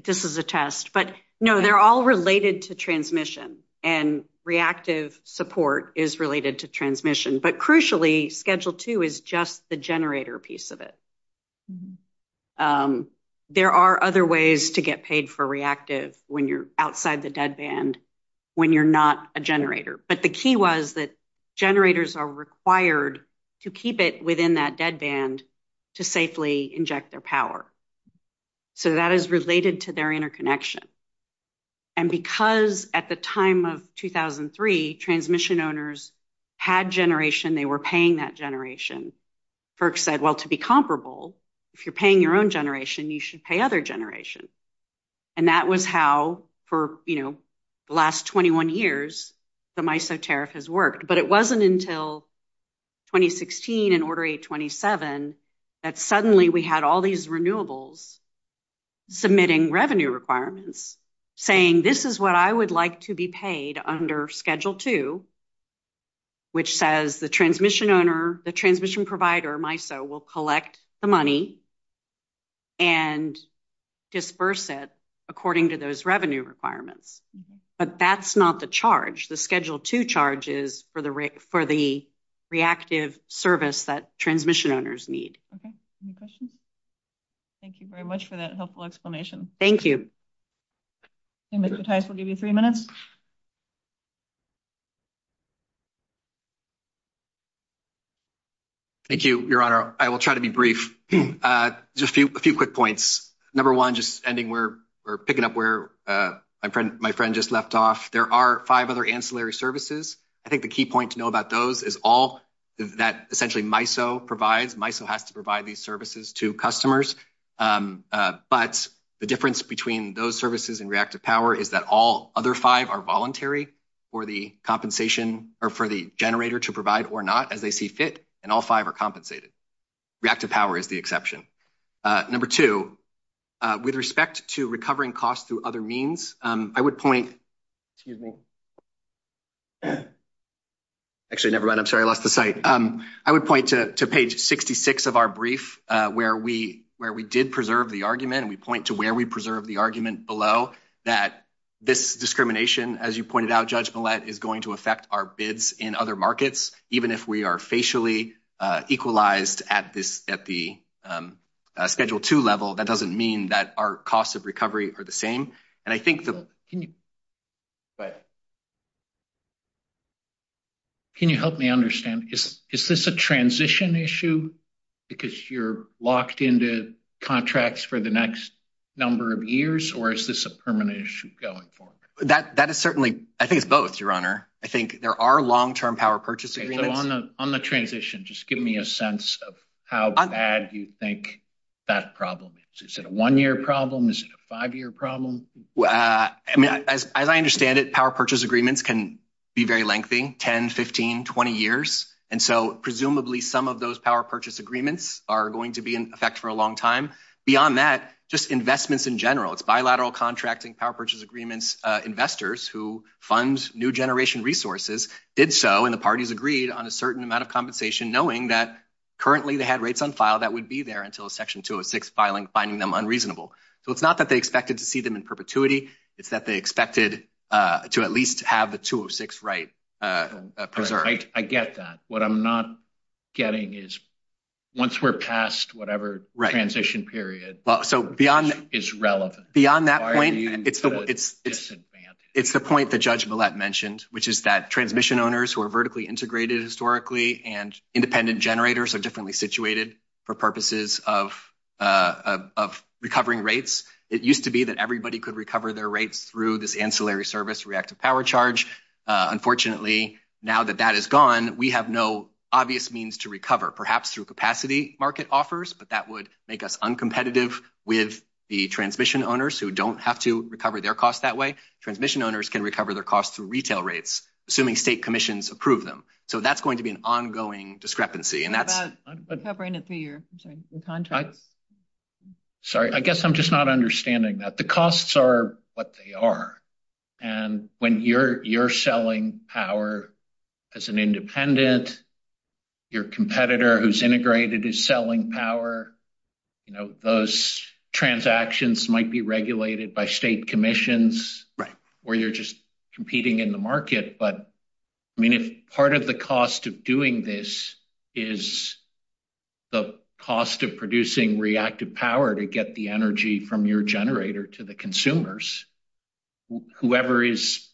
this is a test. But no, they're all related to transmission, and reactive support is related to transmission. But crucially, Schedule 2 is just the generator piece of it. There are other ways to get paid for reactive when you're outside the dead band when you're not a generator. But the key was that generators are required to keep it within that dead band to safely inject their power. So, that is related to their interconnection. And because at the time of 2003, transmission owners had generation, they were paying that generation, FERC said, well, to be comparable, if you're paying your own generation, you should pay other generations. And that was how, for the last 21 years, the MISO tariff has worked. But it wasn't until 2016 and Order 827 that suddenly we had all these renewables submitting revenue requirements, saying this is what I would like to be paid under Schedule 2, which says the transmission provider, MISO, will collect the money and disperse it according to those revenue requirements. But that's not the charge. The Schedule 2 charge is for the reactive service that transmission owners need. Okay. Any questions? Thank you very much for that helpful explanation. Thank you. And Mr. Tice will give you three minutes. Thank you, Your Honor. I will try to be brief. Just a few quick points. Number one, just ending where we're picking up where my friend just left off, there are five other ancillary services. I think the key point to know about those is all that essentially MISO provides. MISO has to provide these services to customers. But the difference between those services and reactive power is that all other five are voluntary for the compensation or for the generator to provide or not as they see fit, and all five are compensated. Reactive power is the exception. Number two, with respect to recovering costs through other means, I would point to page 66 of our brief, where we did preserve the argument, and we point to where we preserve the argument below, that this discrimination, as you pointed out, Judge Millett, is going to affect our bids in other markets, even if we are facially equalized at the Schedule II level. That doesn't mean that our costs of recovery are the same. Can you help me understand? Is this a transition issue because you're locked into contracts for the next number of years, or is this a permanent issue going forward? I think it's both, Your Honor. I think there are long-term power purchase agreements. On the transition, just give me a sense of how bad you think that problem is. Is it a one-year problem? Is it a five-year problem? As I understand it, power purchase agreements can be very lengthy, 10, 15, 20 years. And so presumably some of those power purchase agreements are going to be in effect for a long time. Beyond that, just investments in general. It's bilateral contracting, power purchase agreements, investors who fund new generation resources did so, and the parties agreed on a certain amount of compensation, knowing that currently they had rates on file that would be there until Section 206 filing, finding them unreasonable. So it's not that they expected to see them in perpetuity. It's that they expected to at least have the 206 right preserved. I get that. What I'm not getting is once we're past whatever transition period is relevant. Beyond that point, it's the point that Judge Millett mentioned, which is that transmission owners who are vertically integrated historically and independent generators are differently situated for purposes of recovering rates. It used to be that everybody could recover their rates through this ancillary service reactive power charge. Unfortunately, now that that is gone, we have no obvious means to recover, perhaps through capacity market offers, but that would make us uncompetitive with the transmission owners who don't have to recover their costs that way. Transmission owners can recover their costs through retail rates, assuming state commissions approve them. So that's going to be an ongoing discrepancy. Sorry, I guess I'm just not understanding that. The costs are what they are, and when you're selling power as an independent, your competitor who's integrated is selling power. Those transactions might be regulated by state commissions, or you're just competing in the market. But part of the cost of doing this is the cost of producing reactive power to get the energy from your generator to the consumers. Whoever is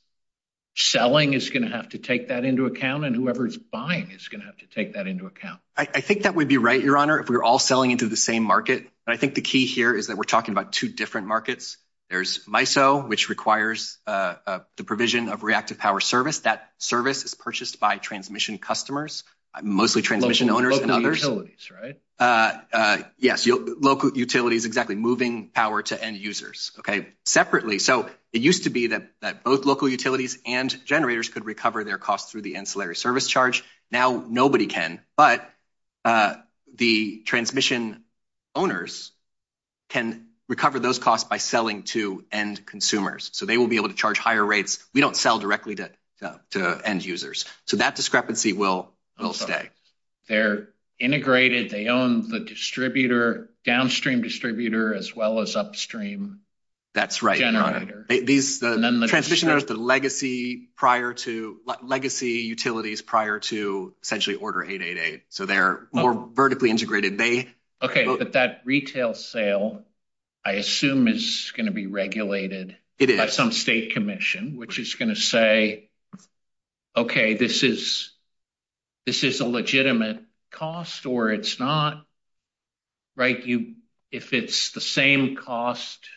selling is going to have to take that into account, and whoever is buying is going to have to take that into account. I think that would be right, Your Honor, if we're all selling into the same market. I think the key here is that we're talking about two different markets. There's MISO, which requires the provision of reactive power service. That service is purchased by transmission customers, mostly transmission owners and others. Local utilities, right? Yes, local utilities, exactly, moving power to end users. Separately, so it used to be that both local utilities and generators could recover their costs through the ancillary service charge. Now nobody can, but the transmission owners can recover those costs by selling to end consumers, so they will be able to charge higher rates. We don't sell directly to end users, so that discrepancy will stay. They're integrated, they own the downstream distributor as well as upstream generator. That's right. The transmission owners, the legacy utilities prior to essentially Order 888, so they're more vertically integrated. Okay, but that retail sale, I assume, is going to be regulated by some state commission, which is going to say, okay, this is a legitimate cost or it's not, right? If it's the same cost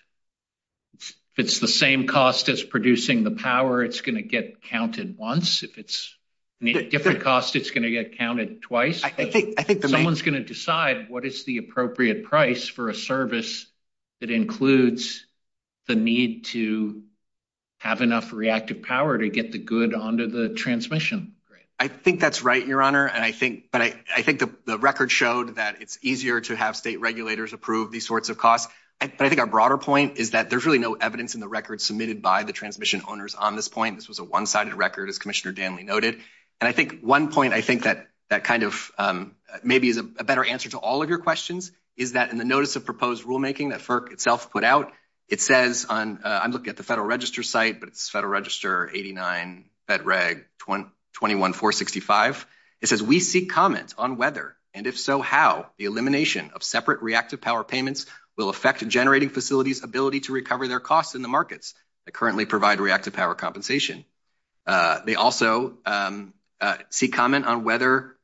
as producing the power, it's going to get counted once. If it's a different cost, it's going to get counted twice. Someone's going to decide what is the appropriate price for a service that includes the need to have enough reactive power to get the good onto the transmission. I think that's right, Your Honor. I think the record showed that it's easier to have state regulators approve these sorts of costs. I think our broader point is that there's really no evidence in the record submitted by the transmission owners on this point. This was a one-sided record, as Commissioner Danley noted. One point I think that maybe is a better answer to all of your questions is that in the Notice of Proposed Rulemaking that FERC itself put out, it says on – I'm looking at the Federal Register site, but it's Federal Register 89, Fed Reg 21465. It says, we seek comments on whether, and if so, how, the elimination of separate reactive power payments will affect generating facilities' ability to recover their costs in the markets that currently provide reactive power compensation. They also seek comment on whether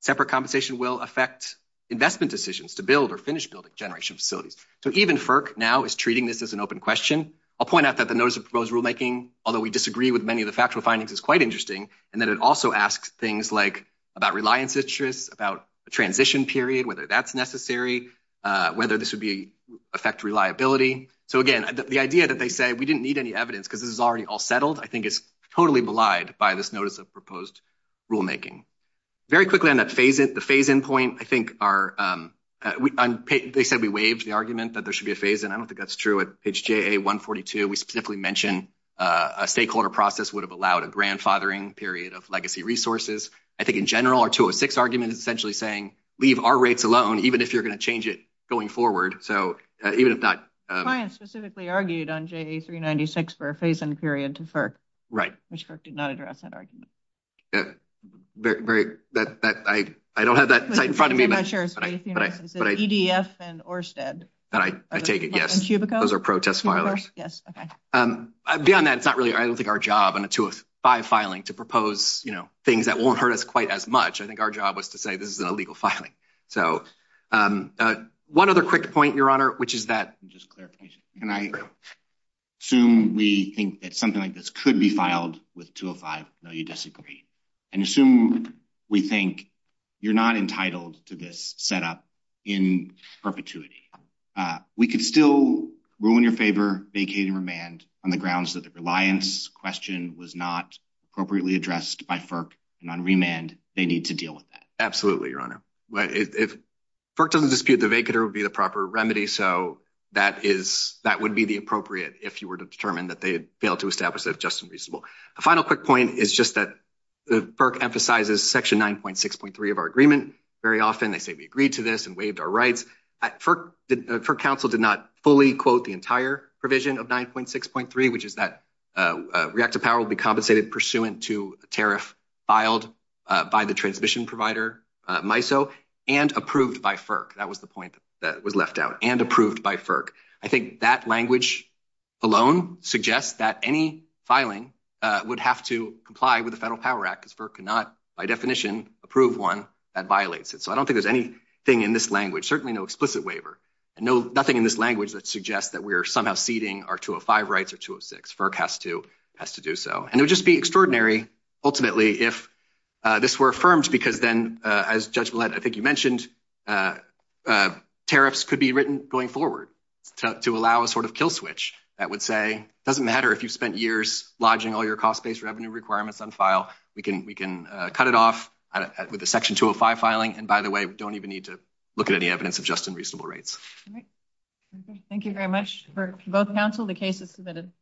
separate compensation will affect investment decisions to build or finish building generation facilities. So even FERC now is treating this as an open question. I'll point out that the Notice of Proposed Rulemaking, although we disagree with many of the factual findings, is quite interesting, and that it also asks things like about reliance interest, about the transition period, whether that's necessary, whether this would affect reliability. So again, the idea that they say, we didn't need any evidence because this is already all settled, I think is totally maligned by this Notice of Proposed Rulemaking. Very quickly on that phase-in point, I think our – they said we waived the argument that there should be a phase-in. I don't think that's true. At page JA142, we specifically mention a stakeholder process would have allowed a grandfathering period of legacy resources. I think in general, our 206 argument is essentially saying, leave our rates alone, even if you're going to change it going forward. So even if not – Brian specifically argued on JA396 for a phase-in period to FERC. Right. Which FERC did not address that argument. Very – I don't have that in front of me. EDF and ORSTED. I take it, yes. Those are protest filings. Yes, okay. Beyond that, it's not really, I don't think, our job in a 205 filing to propose, you know, things that won't hurt us quite as much. I think our job was to say this is an illegal filing. So one other quick point, Your Honor, which is that – Let me just clarify. I agree. Assume we think that something like this could be filed with 205. No, you disagree. And assume we think you're not entitled to this setup in perpetuity. We could still, rule in your favor, vacate and remand on the grounds that the reliance question was not appropriately addressed by FERC. And on remand, they need to deal with that. Absolutely, Your Honor. If FERC doesn't dispute the vacater, it would be the proper remedy. So that is – that would be the appropriate if you were to determine that they had failed to establish that it's just and reasonable. A final quick point is just that FERC emphasizes Section 9.6.3 of our agreement. Very often, they say we agreed to this and waived our rights. FERC counsel did not fully quote the entire provision of 9.6.3, which is that reactive power will be compensated pursuant to a tariff filed by the transmission provider, MISO, and approved by FERC. That was the point that was left out. And approved by FERC. I think that language alone suggests that any filing would have to comply with the Federal Power Act. Because FERC cannot, by definition, approve one that violates it. So I don't think there's anything in this language. Certainly no explicit waiver. And nothing in this language that suggests that we are somehow ceding our 205 rights or 206. FERC has to do so. And it would just be extraordinary, ultimately, if this were affirmed because then, as Judge Millett, I think you mentioned, tariffs could be written going forward to allow a sort of kill switch. That would say it doesn't matter if you spent years lodging all your cost-based revenue requirements on file. We can cut it off with a Section 205 filing. And, by the way, we don't even need to look at any evidence of just and reasonable rates. All right. Thank you very much for both counsel. The case is submitted.